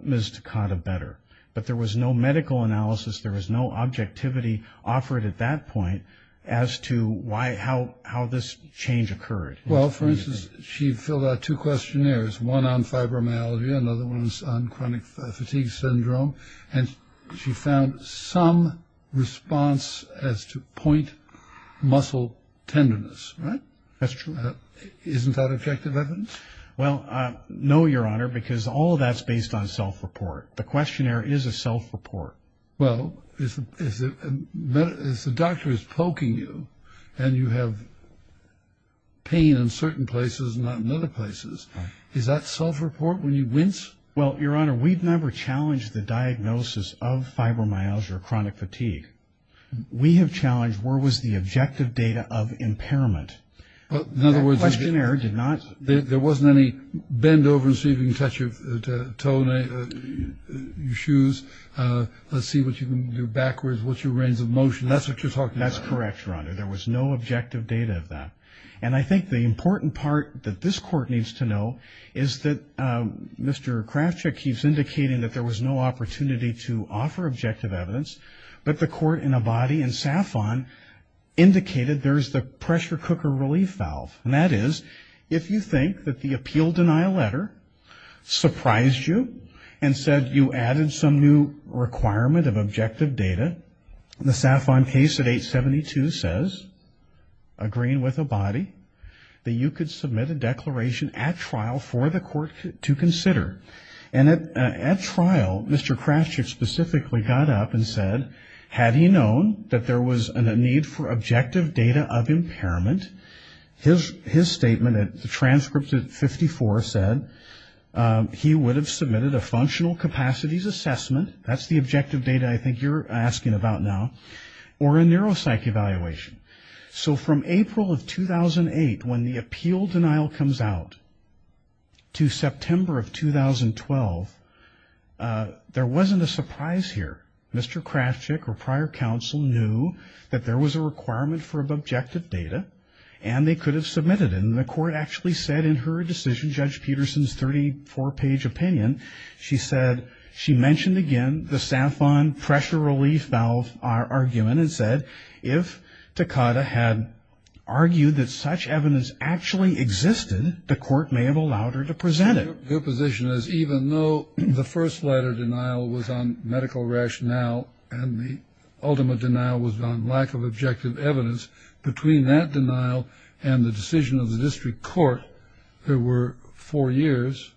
Ms. Takada better. But there was no medical analysis, there was no objectivity offered at that point as to how this change occurred. Well, for instance, she filled out two questionnaires, one on fibromyalgia, another one was on chronic fatigue syndrome. And she found some response as to point muscle tenderness. Isn't that objective evidence? Well, no, Your Honor, because all of that's based on self-report. The questionnaire is a self-report. Well, if the doctor is poking you and you have pain in certain places and not in other places, is that self-report when you rinse? Well, Your Honor, we've never challenged the diagnosis of fibromyalgia or chronic fatigue. We have challenged where was the objective data of impairment. The questionnaire did not. There wasn't any bend over and see if you can touch your toe, your shoes, let's see what you can do backwards, what's your range of motion. That's what you're talking about. That's correct, Your Honor. There was no objective data of that. And I think the important part that this court needs to know is that Mr. Kravchuk keeps indicating that there was no opportunity to offer objective evidence, but the court in Abadie and Safon indicated there is the pressure cooker relief valve. And that is if you think that the appeal denial letter surprised you and said you added some new requirement of objective data, and the Safon case at 872 says, agreeing with Abadie, that you could submit a declaration at trial for the court to consider. And at trial, Mr. Kravchuk specifically got up and said, had he known that there was a need for objective data of impairment, his statement at the transcript at 54 said he would have submitted a functional capacities assessment, that's the objective data I think you're asking about now, or a neuropsych evaluation. So from April of 2008, when the appeal denial comes out, to September of 2012, there wasn't a surprise here. Mr. Kravchuk, or prior counsel, knew that there was a requirement for objective data, and they could have submitted it. And the court actually said in her decision, Judge Peterson's 34-page opinion, she mentioned again the Safon pressure relief valve argument and said if Takada had argued that such evidence actually existed, the court may have allowed her to present it. Her position is even though the first letter denial was on medical rationale and the ultimate denial was on lack of objective evidence, between that denial and the decision of the district court, there were four years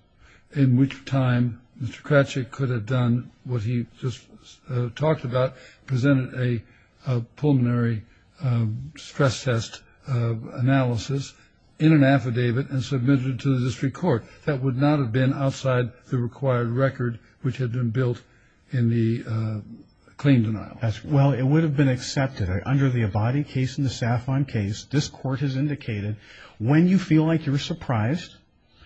in which time Mr. Kravchuk could have done what he just talked about, presented a pulmonary stress test analysis in an affidavit and submitted it to the district court. That would not have been outside the required record which had been built in the claim denial. Well, it would have been accepted under the Avadi case and the Safon case. This court has indicated when you feel like you're surprised,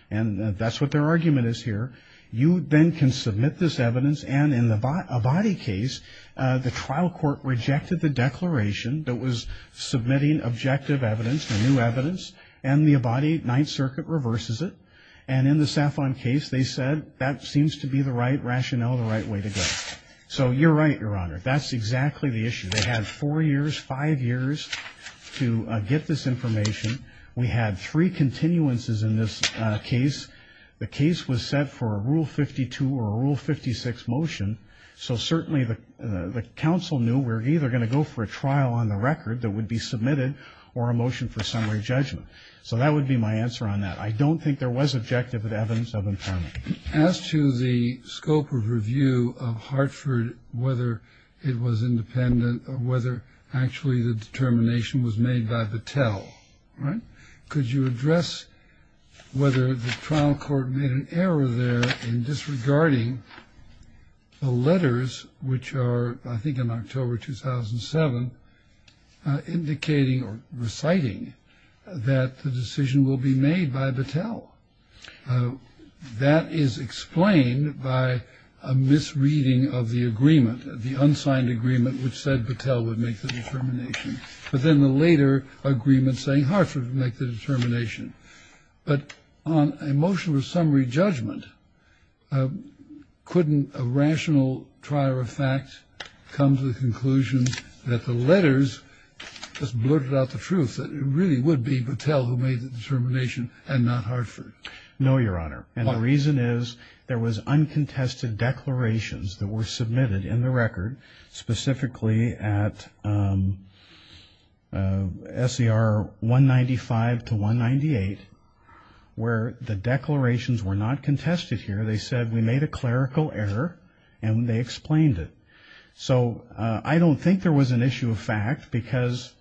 and that's what their argument is here, you then can submit this evidence. And in the Avadi case, the trial court rejected the declaration that was submitting objective evidence, the new evidence, and the Avadi Ninth Circuit reverses it. And in the Safon case, they said that seems to be the right rationale and the right way to go. So you're right, Your Honor. That's exactly the issue. They had four years, five years to get this information. We had three continuances in this case. The case was set for a Rule 52 or a Rule 56 motion, so certainly the counsel knew we're either going to go for a trial on the record that would be submitted or a motion for summary judgment. So that would be my answer on that. I don't think there was objective evidence of impairment. As to the scope of review of Hartford, whether it was independent or whether actually the determination was made by Battelle, could you address whether the trial court made an error there in disregarding the letters, which are I think in October 2007, indicating or reciting that the decision will be made by Battelle. That is explained by a misreading of the agreement, the unsigned agreement which said Battelle would make the determination. But then the later agreement saying Hartford would make the determination. But on a motion of summary judgment, couldn't a rational trial of facts come to the conclusion that the letters just blurted out the truth, that it really would be Battelle who made the determination and not Hartford? No, Your Honor. And the reason is there was uncontested declarations that were submitted in the record, specifically at SER 195 to 198, where the declarations were not contested here. They said we made a clerical error and they explained it. So I don't think there was an issue of fact because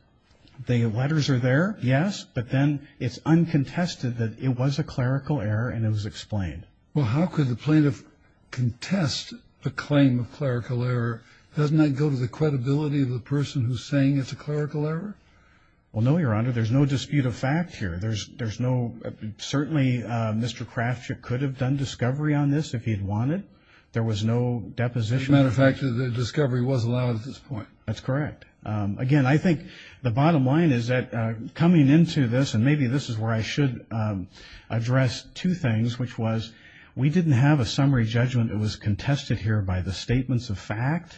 the letters are there, yes, but then it's uncontested that it was a clerical error and it was explained. Well, how could the plaintiff contest the claim of clerical error? Doesn't that go to the credibility of the person who's saying it's a clerical error? Well, no, Your Honor. There's no dispute of fact here. There's no – certainly Mr. Cratchit could have done discovery on this if he had wanted. There was no deposition. As a matter of fact, the discovery was allowed at this point. That's correct. Again, I think the bottom line is that coming into this, and maybe this is where I should address two things, which was we didn't have a summary judgment. It was contested here by the statements of fact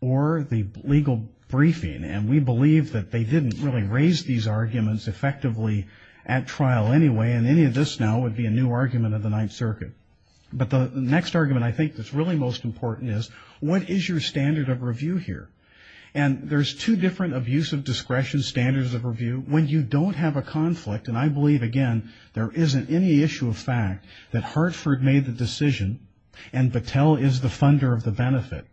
or the legal briefing, and we believe that they didn't really raise these arguments effectively at trial anyway, and any of this now would be a new argument of the Ninth Circuit. But the next argument I think that's really most important is what is your standard of review here? And there's two different abuse of discretion standards of review. When you don't have a conflict, and I believe, again, there isn't any issue of fact, that Hartford made the decision and Battelle is the funder of the benefit.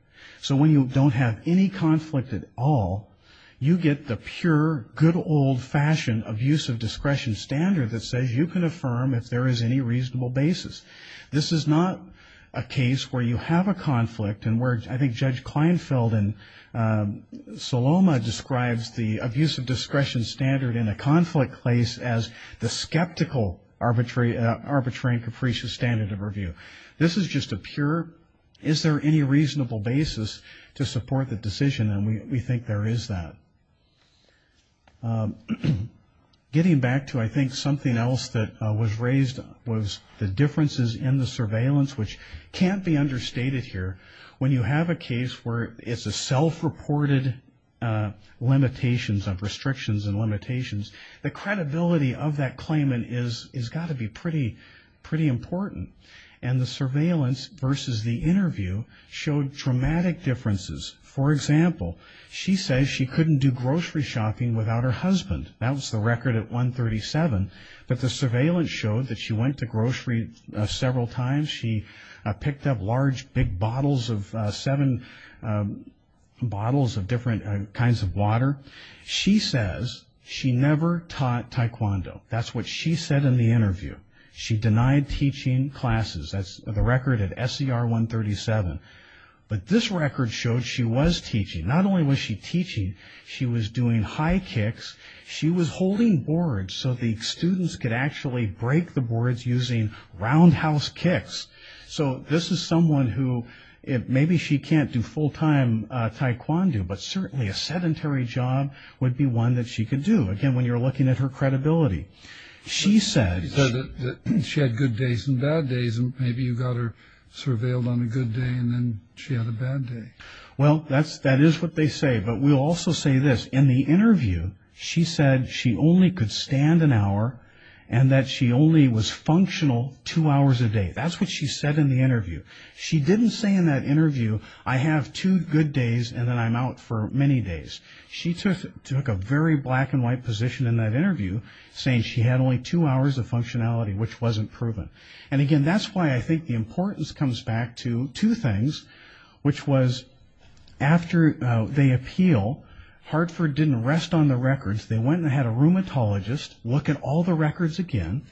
So when you don't have any conflict at all, you get the pure, good old-fashioned abuse of discretion standard that says you can affirm if there is any reasonable basis. This is not a case where you have a conflict and where I think Judge Kleinfeld and Saloma describes the abuse of discretion standard in a conflict case as the skeptical arbitrary and capricious standard of review. This is just a pure is there any reasonable basis to support the decision, and we think there is that. Getting back to I think something else that was raised was the differences in the surveillance, which can't be understated here. When you have a case where it's a self-reported limitations of restrictions and limitations, the credibility of that claimant has got to be pretty important. And the surveillance versus the interview showed dramatic differences. For example, she says she couldn't do grocery shopping without her husband. That was the record at 137. But the surveillance showed that she went to grocery several times. She picked up large big bottles of seven bottles of different kinds of water. She says she never taught taekwondo. That's what she said in the interview. She denied teaching classes. That's the record at SCR 137. But this record showed she was teaching. Not only was she teaching, she was doing high kicks. She was holding boards so the students could actually break the boards using roundhouse kicks. So this is someone who maybe she can't do full-time taekwondo, but certainly a sedentary job would be one that she could do. Again, when you're looking at her credibility. She said that she had good days and bad days, and maybe you got her surveilled on a good day and then she had a bad day. Well, that is what they say. But we'll also say this. In the interview, she said she only could stand an hour and that she only was functional two hours a day. That's what she said in the interview. She didn't say in that interview, I have two good days and then I'm out for many days. She took a very black-and-white position in that interview, saying she had only two hours of functionality, which wasn't proven. And, again, that's why I think the importance comes back to two things, which was after they appeal, Hartford didn't rest on the records. They went and had a rheumatologist look at all the records again,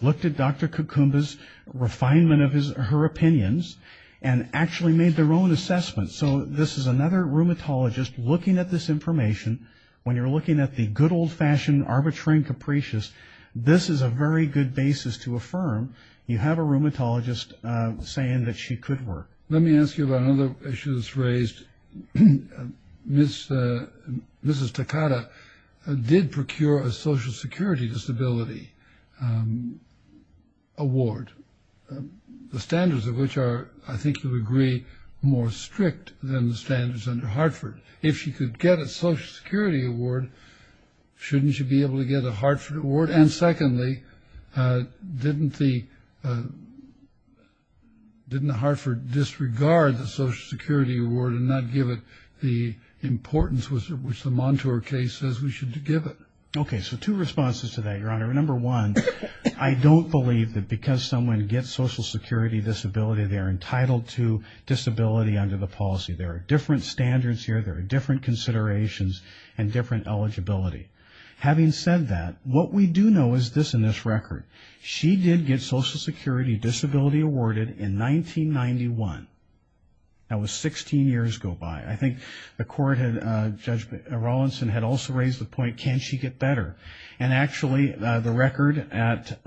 looked at Dr. Kukumba's refinement of her opinions, and actually made their own assessments. So this is another rheumatologist looking at this information. When you're looking at the good old-fashioned arbitrary and capricious, this is a very good basis to affirm you have a rheumatologist saying that she could work. Let me ask you about another issue that's raised. Mrs. Takata did procure a Social Security Disability Award, the standards of which are, I think to a degree, more strict than the standards under Hartford. If she could get a Social Security Award, shouldn't she be able to get a Hartford Award? And, secondly, didn't the Hartford disregard the Social Security Award and not give it the importance which the Montour case says we should give it? Okay, so two responses to that, Your Honor. Number one, I don't believe that because someone gets Social Security Disability, they're entitled to disability under the policy. There are different standards here. There are different considerations and different eligibility. Having said that, what we do know is this in this record. She did get Social Security Disability Awarded in 1991. That was 16 years go by. I think Judge Rawlinson had also raised the point, can she get better? And, actually, the record at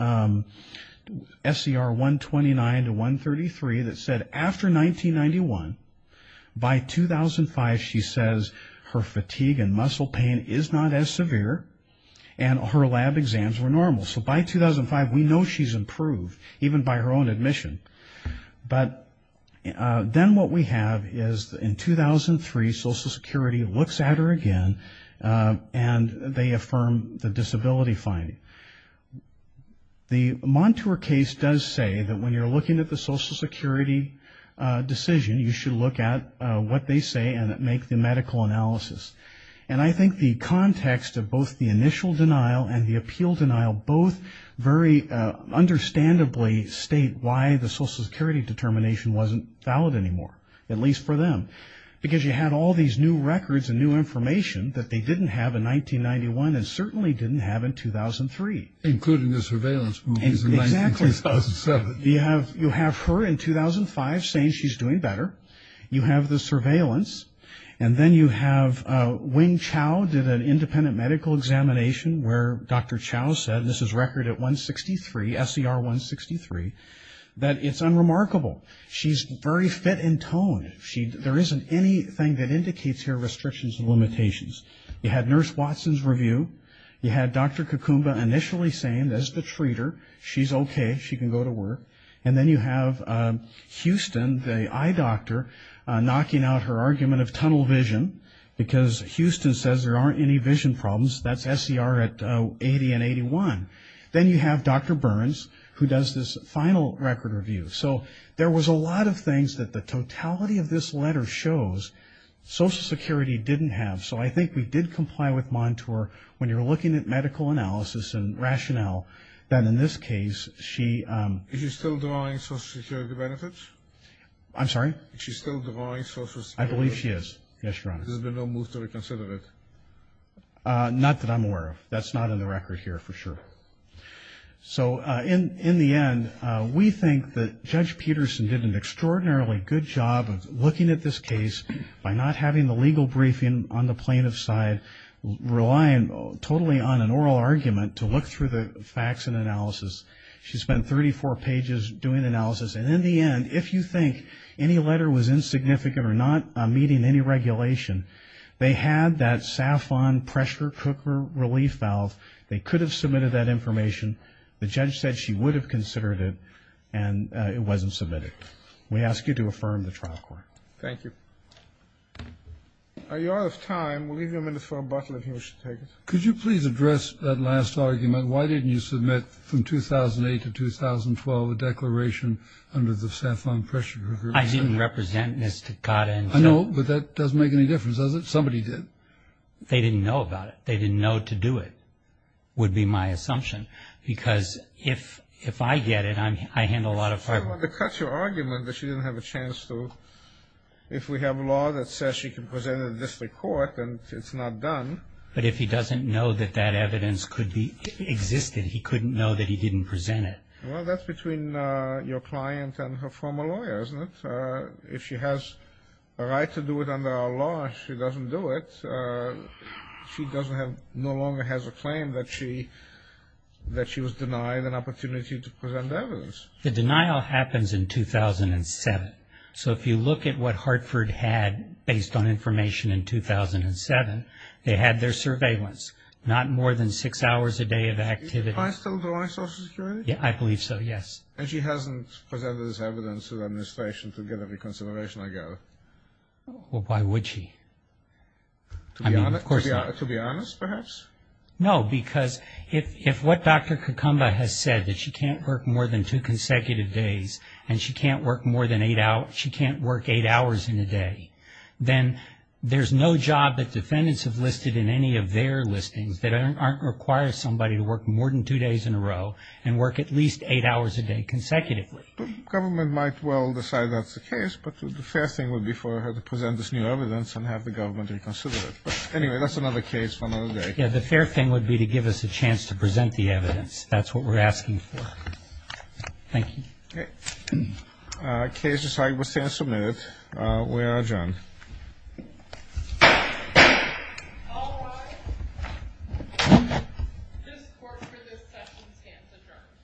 SCR 129 to 133 that said after 1991, by 2005, she says her fatigue and muscle pain is not as severe and her lab exams were normal. So by 2005, we know she's improved, even by her own admission. But then what we have is in 2003, Social Security looks at her again and they affirm the disability finding. The Montour case does say that when you're looking at the Social Security decision, you should look at what they say and make the medical analysis. And I think the context of both the initial denial and the appeal denial both very understandably state why the Social Security determination wasn't valid anymore, at least for them. Because you had all these new records and new information that they didn't have in 1991 and certainly didn't have in 2003. Including the surveillance from 2007. Exactly. You have her in 2005 saying she's doing better. You have the surveillance. And then you have when Chow did an independent medical examination where Dr. Chow said, this is record at 163, SCR 163, that it's unremarkable. She's very fit in tone. There isn't anything that indicates her restrictions and limitations. You had Nurse Watson's review. You had Dr. Kukumba initially saying that it's the treater. She's okay. She can go to work. And then you have Houston, the eye doctor, knocking out her argument of tunnel vision because Houston says there aren't any vision problems. That's SCR at 80 and 81. Then you have Dr. Burns who does this final record review. So there was a lot of things that the totality of this letter shows Social Security didn't have. So I think we did comply with Montour. When you're looking at medical analysis and rationale, then in this case she ‑‑ Is she still denying Social Security benefits? I'm sorry? Is she still denying Social Security benefits? I believe she is. Yes, Your Honor. Has there been no move to reconsider it? Not that I'm aware of. That's not in the record here for sure. So in the end, we think that Judge Peterson did an extraordinarily good job of looking at this case by not having the legal briefing on the plaintiff's side, relying totally on an oral argument to look through the facts and analysis. She spent 34 pages doing analysis. And in the end, if you think any letter was insignificant or not meeting any regulation, they had that SAFON pressure cooker relief valve. They could have submitted that information. The judge said she would have considered it, and it wasn't submitted. We ask you to affirm the trial court. Thank you. Your Honor's time. We'll give you a minute for a buzzer if you wish to take it. Could you please address that last argument? Why didn't you submit from 2008 to 2012 a declaration under the SAFON pressure cooker? I didn't represent Ms. Takata. I know, but that doesn't make any difference, does it? Somebody did. They didn't know about it. They didn't know to do it, would be my assumption, because if I get it, I handle a lot of problems. I want to cut your argument, but she didn't have a chance to. If we have law that says she can present it in district court, then it's not done. But if he doesn't know that that evidence could be existed, he couldn't know that he didn't present it. Well, that's between your client and her former lawyer, isn't it? If she has a right to do it under our law and she doesn't do it, she no longer has a claim that she was denied an opportunity to present evidence. The denial happens in 2007. So if you look at what Hartford had based on information in 2007, they had their surveillance, not more than six hours a day of activity. Is your client still drawing social security? I believe so, yes. And she hasn't put out this evidence to the administration to give any consideration, I guess. Well, why would she? To be honest, perhaps? No, because if what Dr. Kakumba has said, that she can't work more than two consecutive days and she can't work eight hours in a day, then there's no job that defendants have listed in any of their listings that don't require somebody to work more than two days in a row and work at least eight hours a day consecutively. The government might well decide that's the case, but the fair thing would be for her to present this new evidence and have the government reconsider it. Anyway, that's another case for another day. Yeah, the fair thing would be to give us a chance to present the evidence. That's what we're asking for. Thank you. Okay. Case decided with fair submit. We are adjourned. All rise. This court is adjourned. Thank you. Thank you. Thank you.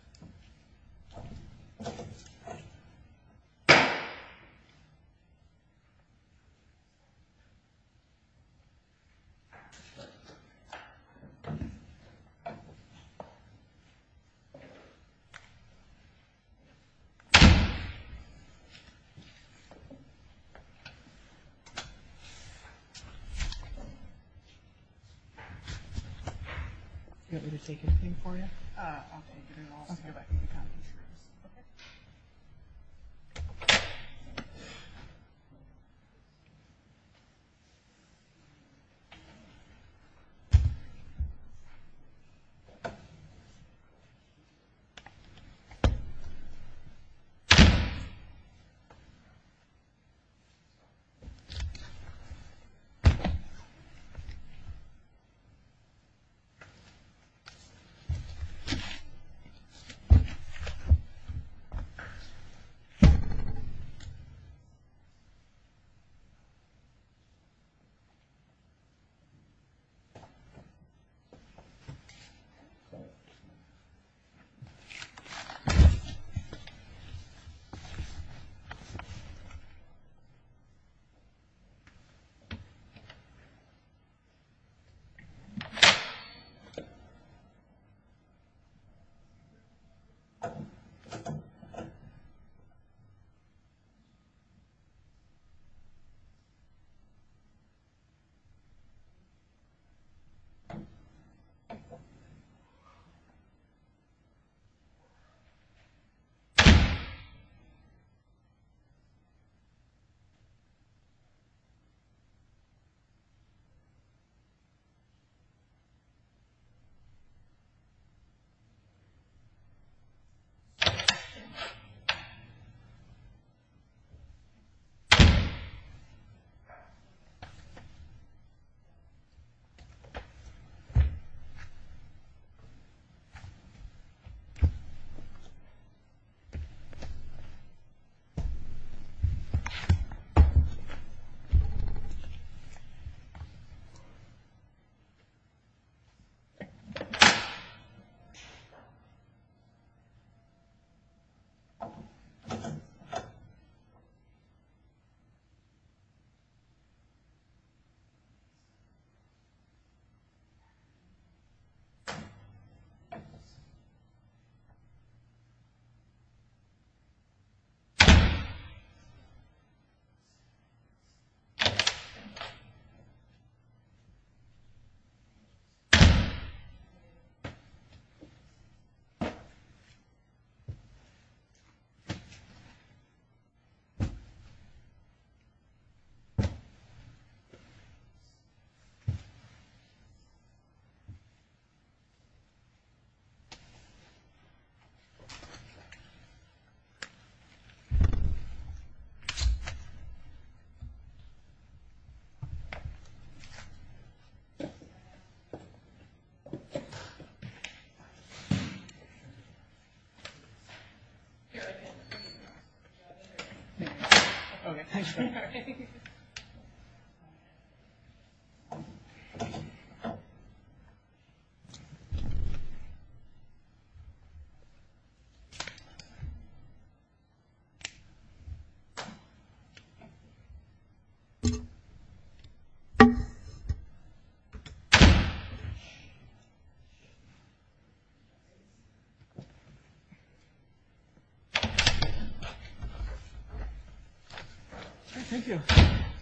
Thank you. Thank you. Thank you. Thank you.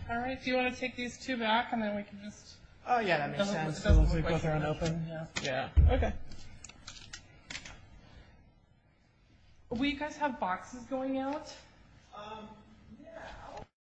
All right. Do you want to take these two back and then we can just... Oh, yeah. Okay. Will you guys have boxes going out? Okay.